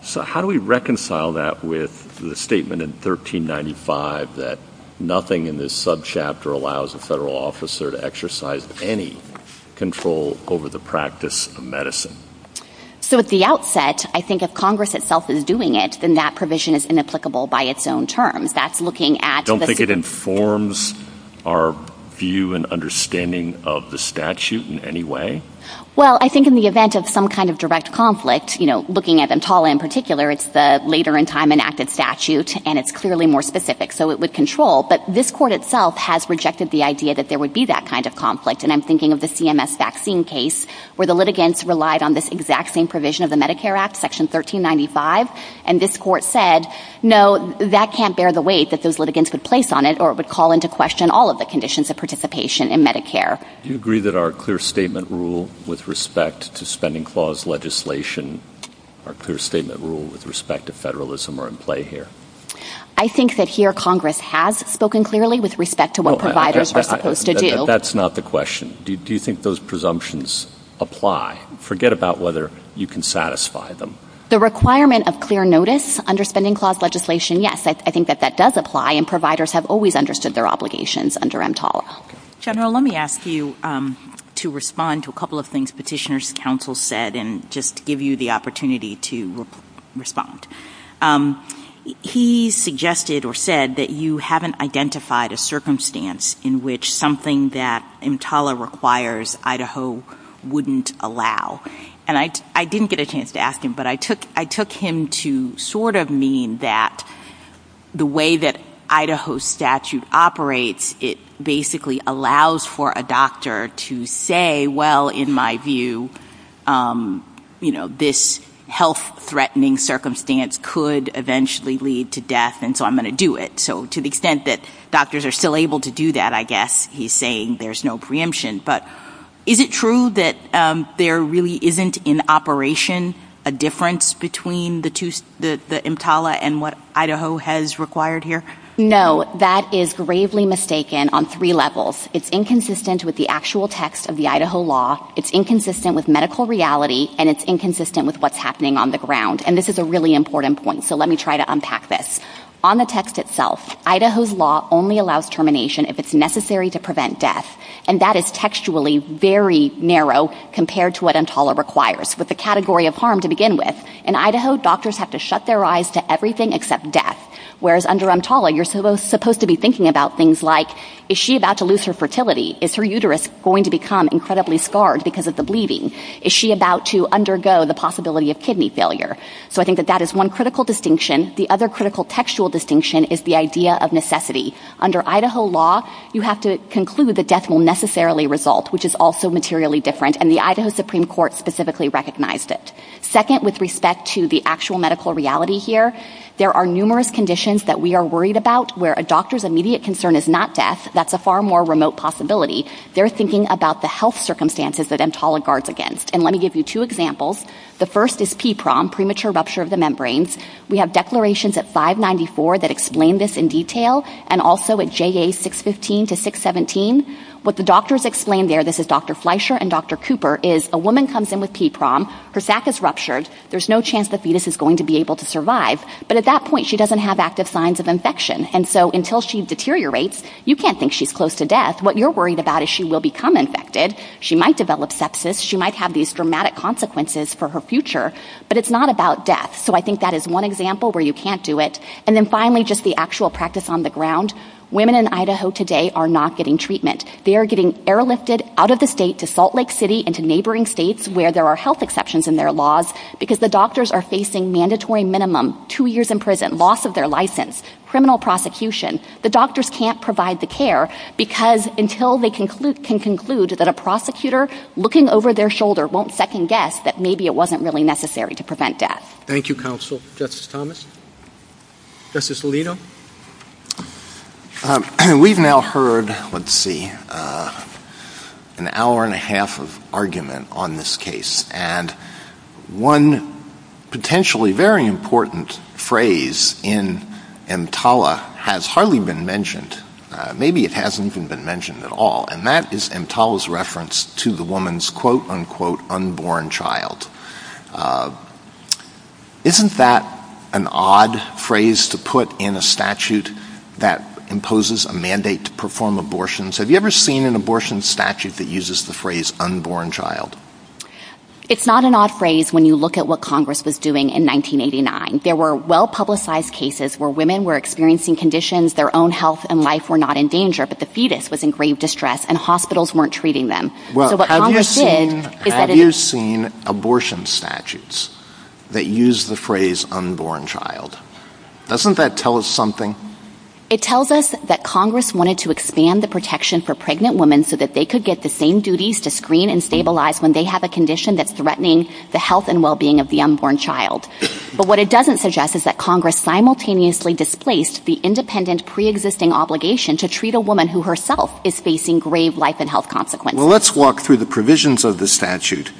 So how do we reconcile that with the statement in 1395 that nothing in this subchapter allows a federal officer to exercise any control over the practice of medicine? So at the outset, I think if Congress itself is doing it, then that provision is inapplicable by its own terms. That's looking at the – I don't think it informs our view and understanding of the statute in any way. Well, I think in the event of some kind of direct conflict, you know, looking at Entala in particular, it's the later in time enacted statute, and it's clearly more specific. So it would control. But this Court itself has rejected the idea that there would be that kind of conflict. And I'm thinking of the CMS vaccine case where the litigants relied on this exact same provision of the Medicare Act, Section 1395. And this Court said, no, that can't bear the weight that those litigants would place on it or it would call into question all of the conditions of participation in Medicare. Do you agree that our clear statement rule with respect to spending clause legislation, our clear statement rule with respect to federalism are in play here? I think that here Congress has spoken clearly with respect to what providers are supposed to do. That's not the question. Do you think those presumptions apply? Forget about whether you can satisfy them. The requirement of clear notice under spending clause legislation, yes, I think that that does apply, and providers have always understood their obligations under Entala. General, let me ask you to respond to a couple of things Petitioner's Counsel said and just give you the opportunity to respond. He suggested or said that you haven't identified a circumstance in which something that Entala requires Idaho wouldn't allow. And I didn't get a chance to ask him, but I took him to sort of mean that the way that Idaho statute operates, it basically allows for a doctor to say, well, in my view, you know, this health-threatening circumstance could eventually lead to death, and so I'm going to do it. So to the extent that doctors are still able to do that, I guess he's saying there's no preemption. But is it true that there really isn't in operation a difference between the Entala and what Idaho has required here? No, that is gravely mistaken on three levels. It's inconsistent with the actual text of the Idaho law, it's inconsistent with medical reality, and it's inconsistent with what's happening on the ground. And this is a really important point, so let me try to unpack this. On the text itself, Idaho's law only allows termination if it's necessary to prevent death, and that is textually very narrow compared to what Entala requires, with the category of harm to begin with. In Idaho, doctors have to shut their eyes to everything except death, whereas under Entala, you're supposed to be thinking about things like, is she about to lose her fertility? Is her uterus going to become incredibly scarred because of the bleeding? Is she about to undergo the possibility of kidney failure? So I think that that is one critical distinction. The other critical textual distinction is the idea of necessity. Under Idaho law, you have to conclude that death will necessarily result, which is also materially different, and the Idaho Supreme Court specifically recognized it. Second, with respect to the actual medical reality here, there are numerous conditions that we are worried about where a doctor's immediate concern is not death. That's a far more remote possibility. They're thinking about the health circumstances that Entala guards against. And let me give you two examples. The first is PPROM, premature rupture of the membranes. We have declarations at 594 that explain this in detail, and also at JA 615 to 617. What the doctors explain there, this is Dr. Fleischer and Dr. Cooper, is a woman comes in with PPROM. Her sac is ruptured. There's no chance the fetus is going to be able to survive. But at that point, she doesn't have active signs of infection. And so until she deteriorates, you can't think she's close to death. What you're worried about is she will become infected. She might develop sepsis. She might have these dramatic consequences for her future. But it's not about death. So I think that is one example where you can't do it. And then finally, just the actual practice on the ground. Women in Idaho today are not getting treatment. They are getting airlifted out of the state to Salt Lake City and to neighboring states where there are health exceptions in their laws because the doctors are facing mandatory minimum, two years in prison, loss of their license, criminal prosecution. The doctors can't provide the care because until they can conclude that a prosecutor looking over their shoulder won't second-guess that maybe it wasn't really necessary to prevent death. Thank you, Counsel. Justice Thomas? Justice Alito? We've now heard, let's see, an hour and a half of argument on this case. And one potentially very important phrase in EMTALA has hardly been mentioned. Maybe it hasn't even been mentioned at all. And that is EMTALA's reference to the woman's quote, unquote, unborn child. Isn't that an odd phrase to put in a statute that imposes a mandate to perform abortions? Have you ever seen an abortion statute that uses the phrase unborn child? It's not an odd phrase when you look at what Congress was doing in 1989. There were well-publicized cases where women were experiencing conditions, their own health and life were not in danger, but the fetus was in grave distress and hospitals weren't treating them. Have you seen abortion statutes that use the phrase unborn child? Doesn't that tell us something? It tells us that Congress wanted to expand the protection for pregnant women so that they could get the same duties to screen and stabilize when they have a condition that's threatening the health and well-being of the unborn child. But what it doesn't suggest is that Congress simultaneously displaced the independent pre-existing obligation to treat a woman who herself is facing grave life and health consequences. Well, let's walk through the provisions of the statute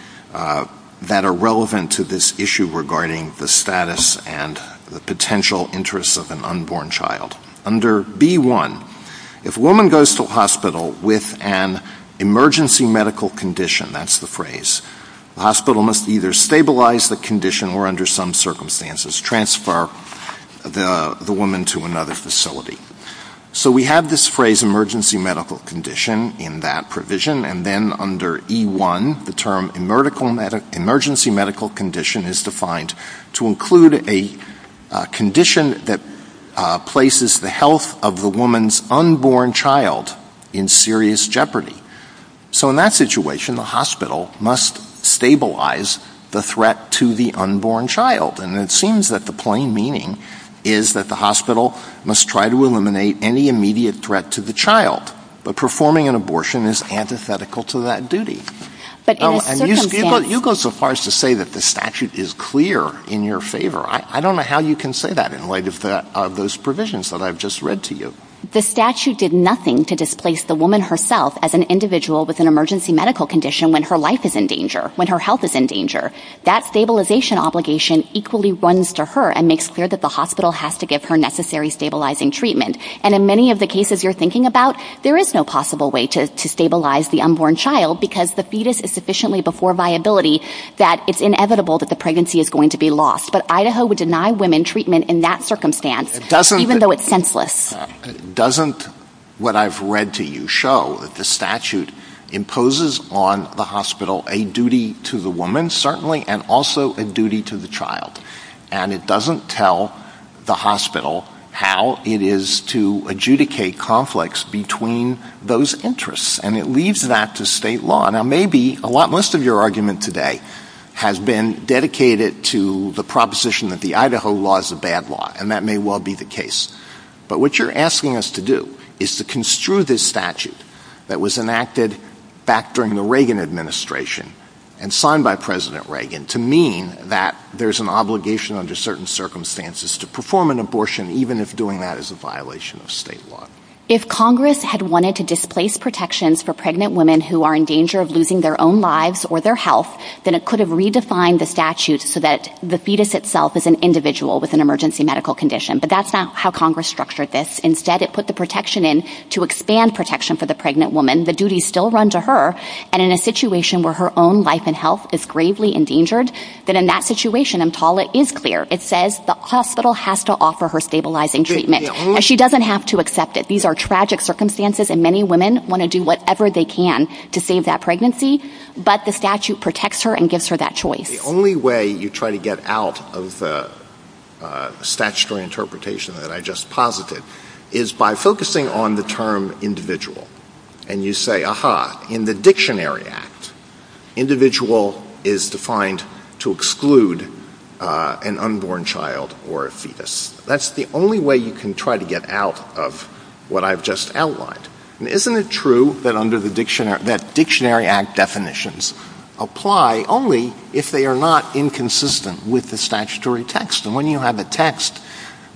that are relevant to this issue regarding the status and the potential interests of an unborn child. Under B-1, if a woman goes to a hospital with an emergency medical condition, that's the phrase, the hospital must either stabilize the condition or under some circumstances transfer the woman to another facility. So we have this phrase emergency medical condition in that provision and then under E-1 the term emergency medical condition is defined to include a condition that places the health of the woman's unborn child in serious jeopardy. So in that situation, the hospital must stabilize the threat to the unborn child and it seems that the plain meaning is that the hospital must try to eliminate any immediate threat to the child. But performing an abortion is antithetical to that duty. You go so far as to say that the statute is clear in your favor. I don't know how you can say that in light of those provisions that I've just read to you. The statute did nothing to displace the woman herself as an individual with an emergency medical condition when her life is in danger, when her health is in danger. That stabilization obligation equally runs to her and makes clear that the hospital has to give her necessary stabilizing treatment. And in many of the cases you're thinking about, there is no possible way to stabilize the unborn child because the fetus is sufficiently before viability that it's inevitable that the pregnancy is going to be lost. But Idaho would deny women treatment in that circumstance even though it's senseless. Doesn't what I've read to you show that the statute imposes on the hospital a duty to the woman, certainly, and also a duty to the child. And it doesn't tell the hospital how it is to adjudicate conflicts between those interests. And it leads back to state law. Now maybe most of your argument today has been dedicated to the proposition that the Idaho law is a bad law, and that may well be the case. But what you're asking us to do is to construe this statute that was enacted back during the Reagan administration and signed by President Reagan to mean that there's an obligation under certain circumstances to perform an abortion even if doing that is a violation of state law. If Congress had wanted to displace protections for pregnant women who are in danger of losing their own lives or their health, then it could have redefined the statute so that the fetus itself is an individual with an emergency medical condition. But that's not how Congress structured this. Instead, it put the protection in to expand protection for the pregnant woman. The duties still run to her. And in a situation where her own life and health is gravely endangered, then in that situation, and Paula is clear, it says the hospital has to offer her stabilizing treatment. And she doesn't have to accept it. These are tragic circumstances, and many women want to do whatever they can to save that pregnancy. But the statute protects her and gives her that choice. The only way you try to get out of the statutory interpretation that I just posited is by focusing on the term individual. And you say, aha, in the Dictionary Act, individual is defined to exclude an unborn child or a fetus. That's the only way you can try to get out of what I've just outlined. And isn't it true that under the Dictionary Act definitions apply only if they are not inconsistent with the statutory text? And when you have a text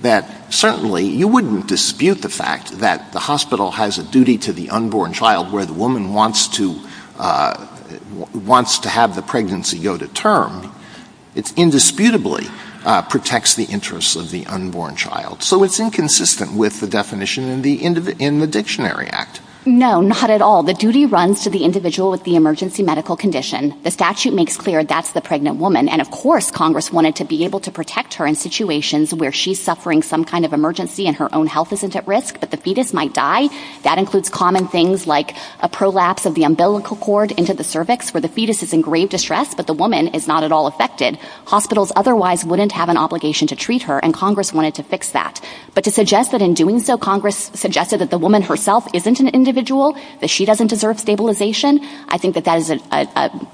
that certainly you wouldn't dispute the fact that the hospital has a duty to the unborn child where the woman wants to have the pregnancy go to term, it indisputably protects the interests of the unborn child. So it's inconsistent with the definition in the Dictionary Act. No, not at all. The duty runs to the individual with the emergency medical condition. The statute makes clear that's the pregnant woman, and of course Congress wanted to be able to protect her in situations where she's suffering some kind of emergency and her own health isn't at risk, but the fetus might die. That includes common things like a prolapse of the umbilical cord into the cervix where the fetus is in grave distress, but the woman is not at all affected. Hospitals otherwise wouldn't have an obligation to treat her, and Congress wanted to fix that. But to suggest that in doing so, Congress suggested that the woman herself isn't an individual, that she doesn't deserve stabilization, I think that that is an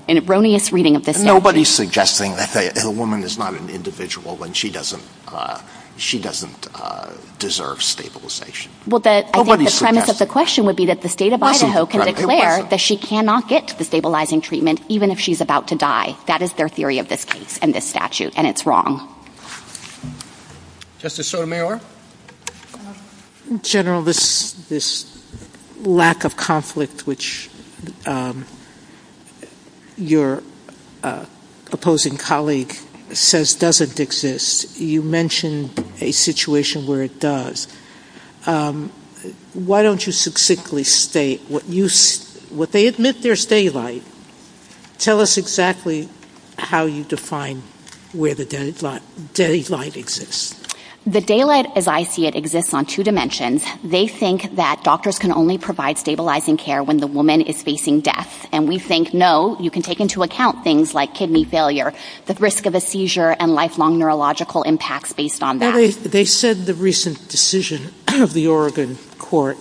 erroneous reading of the statute. Nobody's suggesting that a woman is not an individual and she doesn't deserve stabilization. I think the premise of the question would be that the state of Idaho can declare that she cannot get the stabilizing treatment even if she's about to die. That is their theory of this case and this statute, and it's wrong. Justice Sotomayor? General, this lack of conflict, which your opposing colleague says doesn't exist, you mentioned a situation where it does. Why don't you succinctly state what they admit there's daylight. Tell us exactly how you define where the daylight exists. The daylight, as I see it, exists on two dimensions. They think that doctors can only provide stabilizing care when the woman is facing death. And we think, no, you can take into account things like kidney failure, the risk of a seizure, and lifelong neurological impacts based on that. They said the recent decision of the Oregon court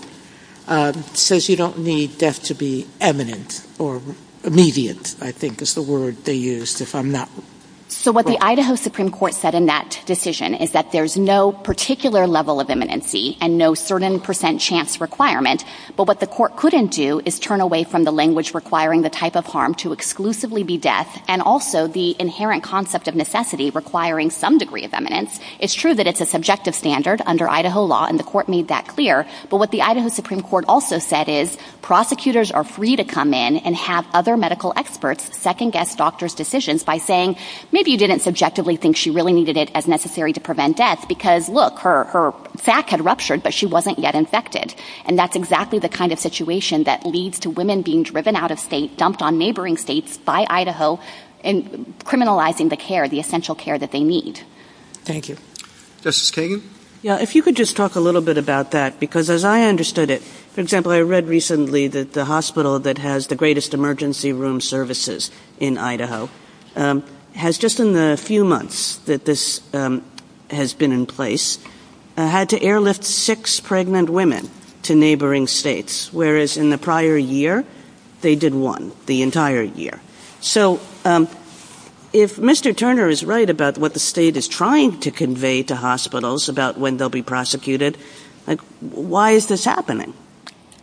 says you don't need death to be imminent or immediate, I think is the word they used. So what the Idaho Supreme Court said in that decision is that there's no particular level of imminency and no certain percent chance requirement, but what the court couldn't do is turn away from the language requiring the type of harm to exclusively be death and also the inherent concept of necessity requiring some degree of imminence. It's true that it's a subjective standard under Idaho law, and the court made that clear, but what the Idaho Supreme Court also said is prosecutors are free to come in and have other medical experts second-guess doctors' decisions by saying maybe you didn't subjectively think she really needed it as necessary to prevent death because, look, her sac had ruptured, but she wasn't yet infected. And that's exactly the kind of situation that leads to women being driven out of state, dumped on neighboring states by Idaho, and criminalizing the care, the essential care that they need. Thank you. Justice Kagan? Yeah, if you could just talk a little bit about that, because as I understood it, for example, I read recently that the hospital that has the greatest emergency room services in Idaho has just in the few months that this has been in place had to airlift six pregnant women to neighboring states, whereas in the prior year they did one the entire year. So if Mr. Turner is right about what the state is trying to convey to hospitals about when they'll be prosecuted, why is this happening?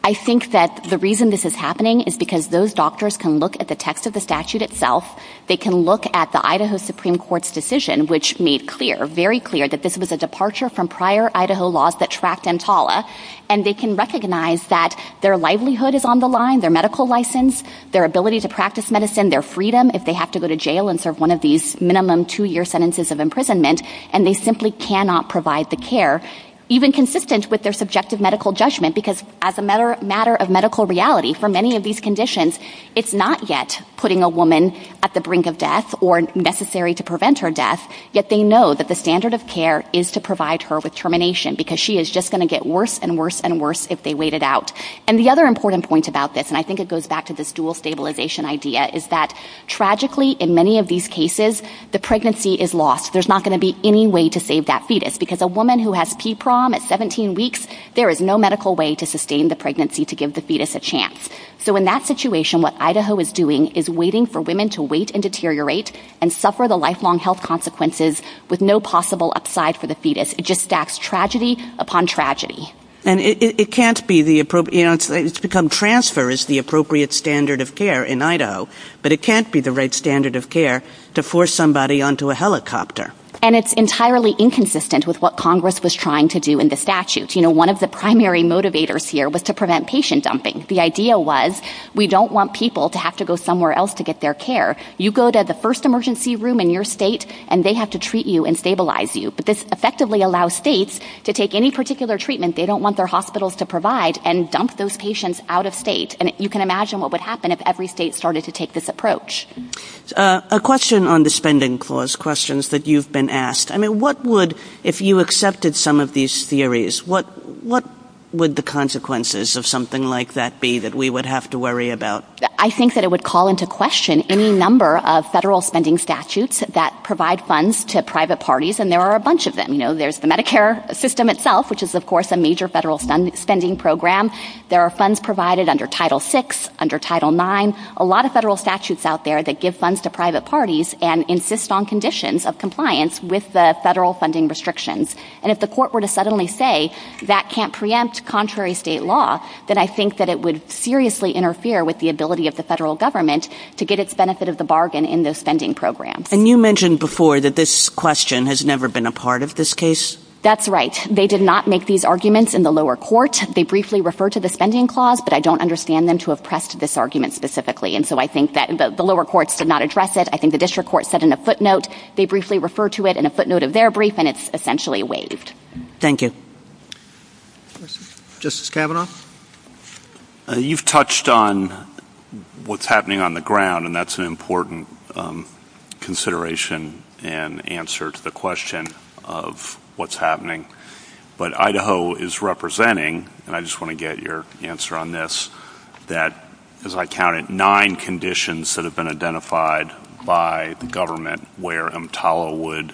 I think that the reason this is happening is because those doctors can look at the text of the statute itself, they can look at the Idaho Supreme Court's decision, which made clear, very clear, that this was a departure from prior Idaho laws that tracked EMTALA, and they can recognize that their livelihood is on the line, their medical license, their ability to practice medicine, their freedom if they have to go to jail and serve one of these minimum two-year sentences of imprisonment, and they simply cannot provide the care, even consistent with their subjective medical judgment, because as a matter of medical reality, for many of these conditions, it's not yet putting a woman at the brink of death or necessary to prevent her death, yet they know that the standard of care is to provide her with termination because she is just going to get worse and worse and worse if they wait it out. And the other important point about this, and I think it goes back to this dual stabilization idea, is that tragically in many of these cases the pregnancy is lost. There's not going to be any way to save that fetus, because a woman who has PPROM at 17 weeks, there is no medical way to sustain the pregnancy to give the fetus a chance. So in that situation, what Idaho is doing is waiting for women to wait and deteriorate and suffer the lifelong health consequences with no possible upside for the fetus. It just stacks tragedy upon tragedy. And it can't be the appropriate answer. It's become transfer is the appropriate standard of care in Idaho, but it can't be the right standard of care to force somebody onto a helicopter. And it's entirely inconsistent with what Congress was trying to do in the statute. You know, one of the primary motivators here was to prevent patient dumping. The idea was we don't want people to have to go somewhere else to get their care. You go to the first emergency room in your state, and they have to treat you and stabilize you. But this effectively allows states to take any particular treatment they don't want their hospitals to provide and dump those patients out of state. And you can imagine what would happen if every state started to take this approach. A question on the spending clause, questions that you've been asked. I mean, what would, if you accepted some of these theories, what would the consequences of something like that be that we would have to worry about? I think that it would call into question any number of federal spending statutes that provide funds to private parties, and there are a bunch of them. You know, there's the Medicare system itself, which is, of course, a major federal spending program. There are funds provided under Title VI, under Title IX, a lot of federal statutes out there that give funds to private parties and insist on conditions of compliance with the federal funding restrictions. And if the court were to suddenly say that can't preempt contrary state law, then I think that it would seriously interfere with the ability of the federal government to get its benefit of the bargain in this spending program. And you mentioned before that this question has never been a part of this case. That's right. They did not make these arguments in the lower court. They briefly referred to the spending clause, but I don't understand them to have pressed this argument specifically. And so I think that the lower courts did not address it. I think the district court said in a footnote they briefly referred to it in a footnote of their brief, and it's essentially waived. Thank you. Justice Kavanaugh? You've touched on what's happening on the ground, and that's an important consideration and answer to the question of what's happening. But Idaho is representing, and I just want to get your answer on this, that, as I counted, nine conditions that have been identified by the government where MTALA would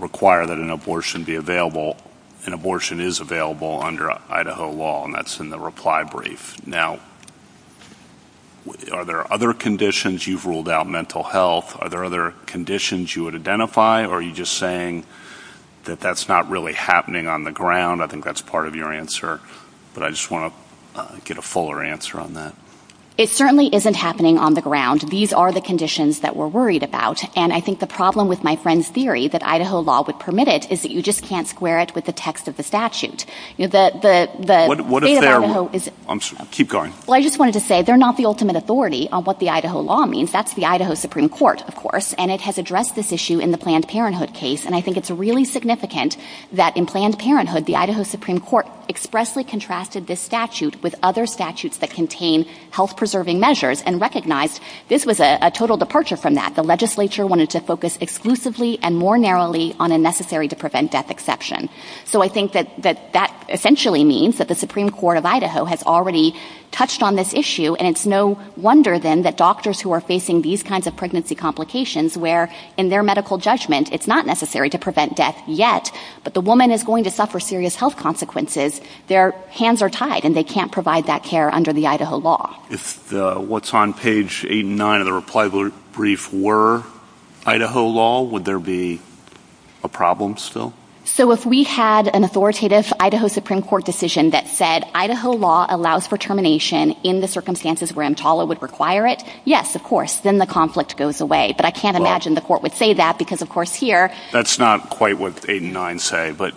require that an abortion be available. An abortion is available under Idaho law, and that's in the reply brief. Now, are there other conditions? You've ruled out mental health. Are there other conditions you would identify, or are you just saying that that's not really happening on the ground? I think that's part of your answer. But I just want to get a fuller answer on that. It certainly isn't happening on the ground. These are the conditions that we're worried about, and I think the problem with my friend's theory that Idaho law would permit it is that you just can't square it with the text of the statute. What is there? Keep going. Well, I just wanted to say they're not the ultimate authority on what the Idaho law means. That's the Idaho Supreme Court, of course, and it has addressed this issue in the Planned Parenthood case, and I think it's really significant that in Planned Parenthood, the Idaho Supreme Court expressly contrasted this statute with other statutes that contain health-preserving measures and recognized this was a total departure from that. The legislature wanted to focus exclusively and more narrowly on a necessary-to-prevent-death exception. So I think that that essentially means that the Supreme Court of Idaho has already touched on this issue, and it's no wonder then that doctors who are facing these kinds of pregnancy complications where in their medical judgment it's not necessary to prevent death yet, but the woman is going to suffer serious health consequences, their hands are tied and they can't provide that care under the Idaho law. If what's on page 8 and 9 of the reply brief were Idaho law, would there be a problem still? So if we had an authoritative Idaho Supreme Court decision that said Idaho law allows for termination in the circumstances where EMTALA would require it, yes, of course, then the conflict goes away. But I can't imagine the court would say that because, of course, here... That's not quite what 8 and 9 say, but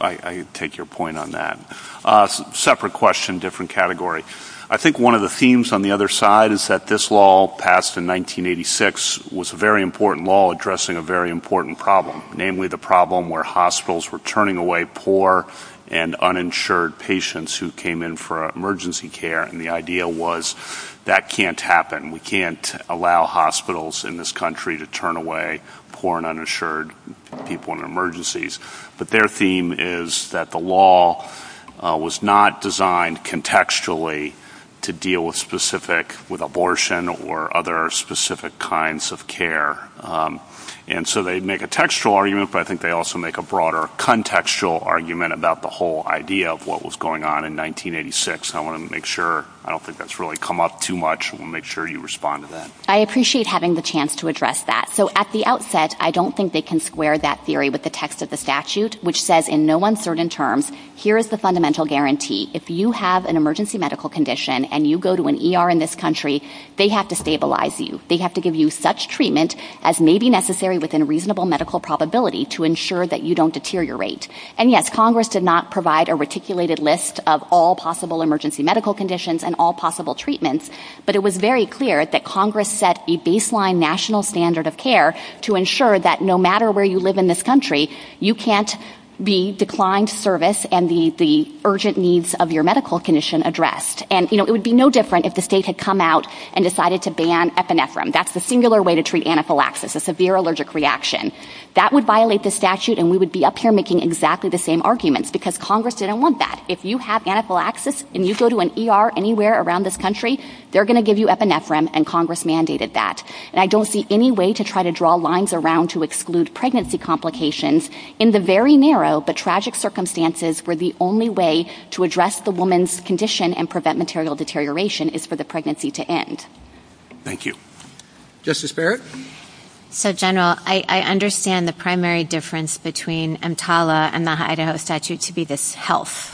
I take your point on that. Separate question, different category. I think one of the themes on the other side is that this law passed in 1986 was a very important law addressing a very important problem, namely the problem where hospitals were turning away poor and uninsured patients who came in for emergency care, and the idea was that can't happen. We can't allow hospitals in this country to turn away poor and uninsured people in emergencies. But their theme is that the law was not designed contextually to deal with abortion or other specific kinds of care. And so they make a textual argument, but I think they also make a broader contextual argument about the whole idea of what was going on in 1986. I want to make sure... I don't think that's really come up too much. We'll make sure you respond to that. I appreciate having the chance to address that. So at the outset, I don't think they can square that theory with the text of the statute, which says in no uncertain terms, here is the fundamental guarantee. If you have an emergency medical condition and you go to an ER in this country, they have to stabilize you. They have to give you such treatment as may be necessary within reasonable medical probability to ensure that you don't deteriorate. And yes, Congress did not provide a reticulated list of all possible emergency medical conditions and all possible treatments, but it was very clear that Congress set a baseline national standard of care to ensure that no matter where you live in this country, you can't be declined service and the urgent needs of your medical condition addressed. And it would be no different if the state had come out and decided to ban epinephrine. That's the singular way to treat anaphylaxis, a severe allergic reaction. That would violate the statute, and we would be up here making exactly the same arguments because Congress didn't want that. If you have anaphylaxis and you go to an ER anywhere around this country, they're going to give you epinephrine, and Congress mandated that. And I don't see any way to try to draw lines around to exclude pregnancy complications. In the very narrow but tragic circumstances, where the only way to address the woman's condition and prevent material deterioration is for the pregnancy to end. Thank you. Justice Barrett? So, General, I understand the primary difference between EMTALA and the Idaho statute to be this health,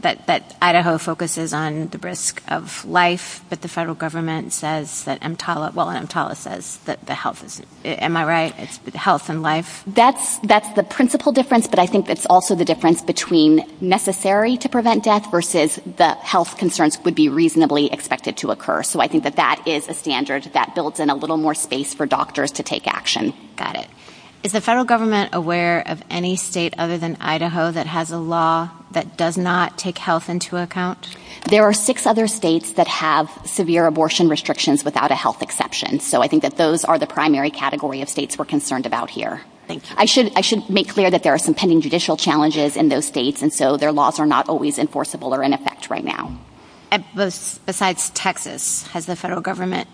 that Idaho focuses on the risk of life, but the federal government says that EMTALA, well, EMTALA says that the health, am I right, is health and life? That's the principal difference, but I think it's also the difference between necessary to prevent death versus the health concerns would be reasonably expected to occur. So I think that that is a standard that builds in a little more space for doctors to take action. Got it. Is the federal government aware of any state other than Idaho that has a law that does not take health into account? There are six other states that have severe abortion restrictions without a health exception. So I think that those are the primary category of states we're concerned about here. I should make clear that there are some pending judicial challenges in those states, and so their laws are not always enforceable or in effect right now. Besides Texas, has the federal government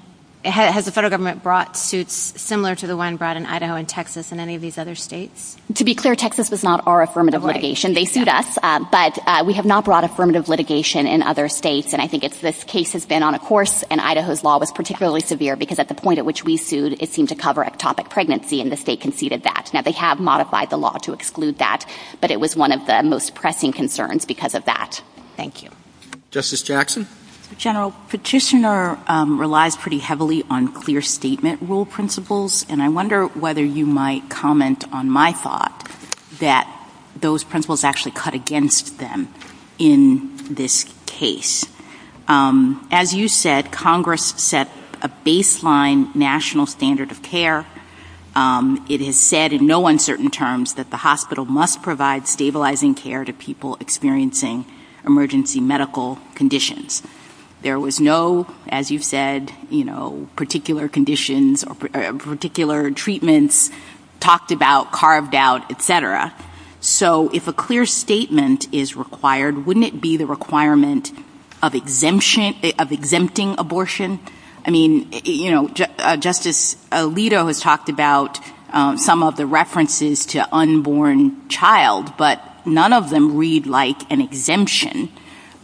brought suits similar to the one brought in Idaho and Texas and any of these other states? To be clear, Texas is not our affirmative litigation. They sued us, but we have not brought affirmative litigation in other states, and I think this case has been on a course, and Idaho's law was particularly severe because at the point at which we sued, it seemed to cover ectopic pregnancy, and the state conceded that. Now, they have modified the law to exclude that, but it was one of the most pressing concerns because of that. Thank you. Justice Jackson? General, petitioner relies pretty heavily on clear statement rule principles, and I wonder whether you might comment on my thought that those principles actually cut against them in this case. As you said, Congress set a baseline national standard of care. It has said in no uncertain terms that the hospital must provide stabilizing care to people experiencing emergency medical conditions. There was no, as you said, you know, particular conditions or particular treatments talked about, carved out, et cetera. So if a clear statement is required, wouldn't it be the requirement of exempting abortion? I mean, you know, Justice Alito has talked about some of the references to unborn child, but none of them read like an exemption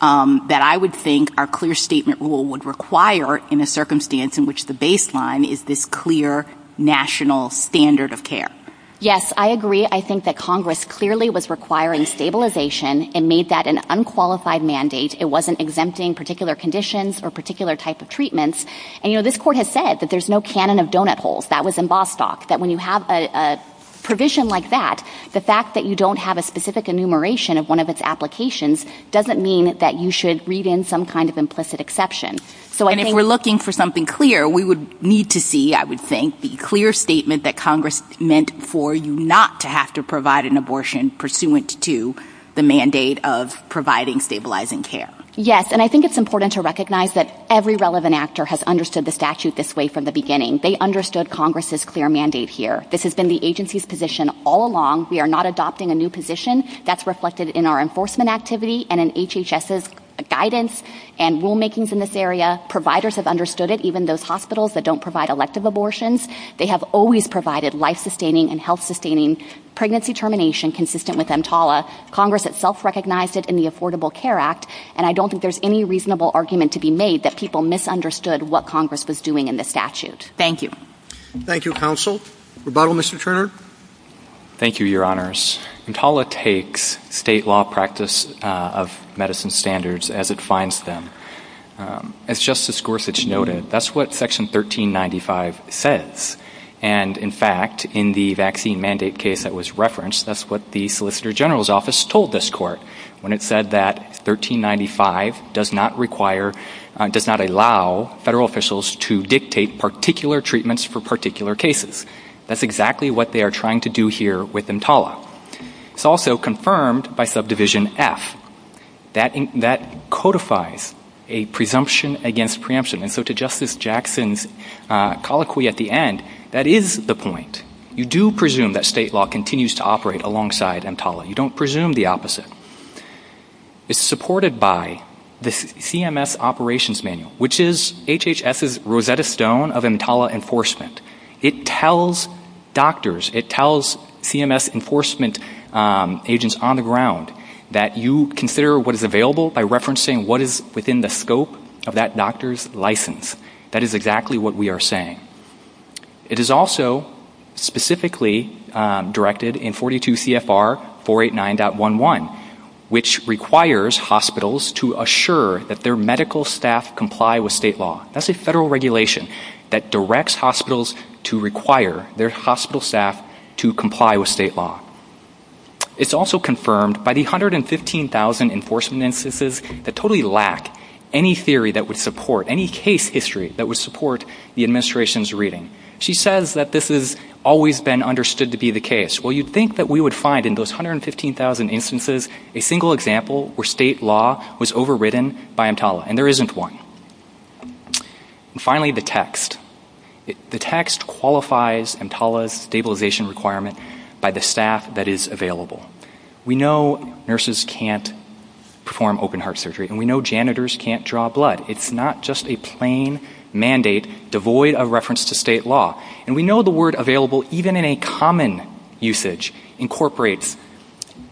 that I would think a clear statement rule would require in a circumstance in which the baseline is this clear national standard of care. Yes, I agree. I think that Congress clearly was requiring stabilization and made that an unqualified mandate. It wasn't exempting particular conditions or particular type of treatments. And, you know, this court has said that there's no cannon of donut holes. That was in Bostock, that when you have a provision like that, the fact that you don't have a specific enumeration of one of its applications doesn't mean that you should read in some kind of implicit exception. And if we're looking for something clear, we would need to see, I would think, the clear statement that Congress meant for you not to have to provide an abortion pursuant to the mandate of providing stabilizing care. Yes, and I think it's important to recognize that every relevant actor has understood the statute this way from the beginning. They understood Congress's clear mandate here. This has been the agency's position all along. We are not adopting a new position. That's reflected in our enforcement activity and in HHS's guidance and rulemakings in this area. Providers have understood it, even those hospitals that don't provide elective abortions. They have always provided life-sustaining and health-sustaining pregnancy termination consistent with EMTALA. Congress itself recognized it in the Affordable Care Act, and I don't think there's any reasonable argument to be made that people misunderstood what Congress was doing in the statute. Thank you. Thank you, Counsel. Rebuttal, Mr. Turner. Thank you, Your Honors. EMTALA takes state law practice of medicine standards as it finds them. As Justice Gorsuch noted, that's what Section 1395 says. And, in fact, in the vaccine mandate case that was referenced, that's what the Solicitor General's Office told this court when it said that 1395 does not require, does not allow federal officials to dictate particular treatments for particular cases. That's exactly what they are trying to do here with EMTALA. It's also confirmed by Subdivision F. That codifies a presumption against preemption. And so to Justice Jackson's colloquy at the end, that is the point. You do presume that state law continues to operate alongside EMTALA. You don't presume the opposite. It's supported by the CMS Operations Manual, which is HHS's Rosetta Stone of EMTALA enforcement. It tells doctors, it tells CMS enforcement agents on the ground that you consider what is available by referencing what is within the scope of that doctor's license. That is exactly what we are saying. It is also specifically directed in 42 CFR 489.11, which requires hospitals to assure that their medical staff comply with state law. That's a federal regulation that directs hospitals to require their hospital staff to comply with state law. It's also confirmed by the 115,000 enforcement instances that totally lack any theory that would support, any case history that would support the administration's reading. She says that this has always been understood to be the case. Well, you'd think that we would find in those 115,000 instances a single example where state law was overridden by EMTALA, and there isn't one. And finally, the text. The text qualifies EMTALA's stabilization requirement by the staff that is available. We know nurses can't perform open-heart surgery, and we know janitors can't draw blood. It's not just a plain mandate devoid of reference to state law. And we know the word available, even in a common usage, incorporates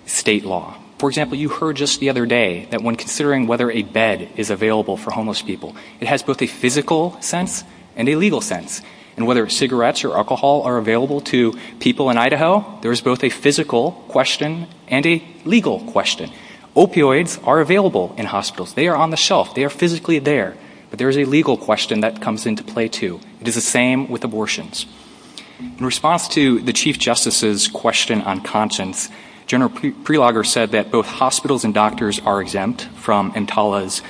state law. For example, you heard just the other day that when considering whether a bed is available for homeless people, it has both a physical sense and a legal sense. And whether cigarettes or alcohol are available to people in Idaho, there is both a physical question and a legal question. Opioids are available in hospitals. They are on the shelf. They are physically there. But there is a legal question that comes into play, too. It is the same with abortions. In response to the Chief Justice's question on conscience, General Prelogger said that both hospitals and doctors are exempt from EMTALA's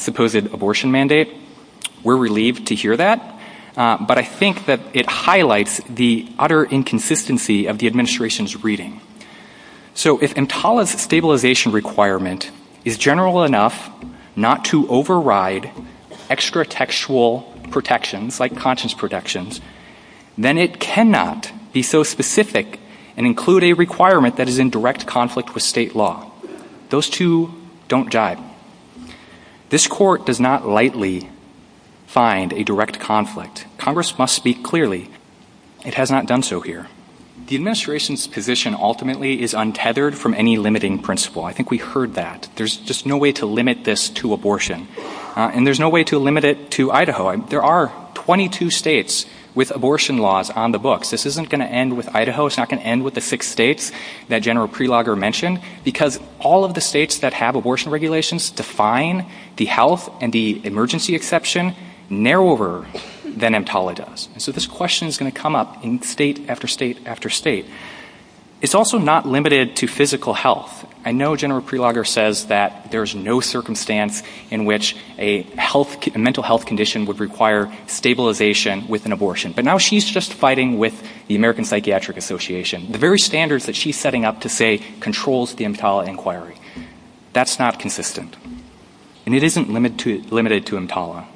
supposed abortion mandate. We're relieved to hear that. But I think that it highlights the utter inconsistency of the administration's reading. So if EMTALA's stabilization requirement is general enough not to override extra-textual protections, like conscience protections, then it cannot be so specific and include a requirement that is in direct conflict with state law. Those two don't jive. This Court does not lightly find a direct conflict. Congress must speak clearly. It has not done so here. The administration's position ultimately is untethered from any limiting principle. I think we heard that. There's just no way to limit this to abortion. And there's no way to limit it to Idaho. There are 22 states with abortion laws on the books. This isn't going to end with Idaho. It's not going to end with the six states that General Prelogger mentioned, because all of the states that have abortion regulations define the health and the emergency exception narrower than EMTALA does. So this question is going to come up in state after state after state. It's also not limited to physical health. I know General Prelogger says that there's no circumstance in which a mental health condition would require stabilization with an abortion. But now she's just fighting with the American Psychiatric Association. The very standards that she's setting up to say controls the EMTALA inquiry. That's not consistent. And it isn't limited to EMTALA.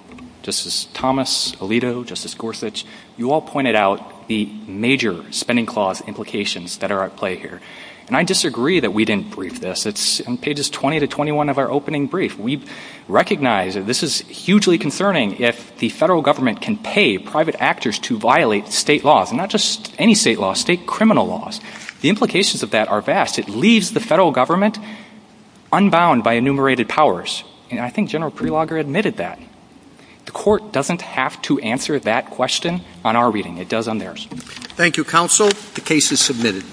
Justice Thomas, Alito, Justice Gorsuch, you all pointed out the major spending clause implications that are at play here. And I disagree that we didn't brief this. It's in pages 20 to 21 of our opening brief. We recognize that this is hugely concerning if the federal government can pay private actors to violate state laws, and not just any state laws, state criminal laws. The implications of that are vast. It leaves the federal government unbound by enumerated powers. And I think General Prelogger admitted that. The court doesn't have to answer that question on our reading. It does on theirs. Thank you, counsel. The case is submitted.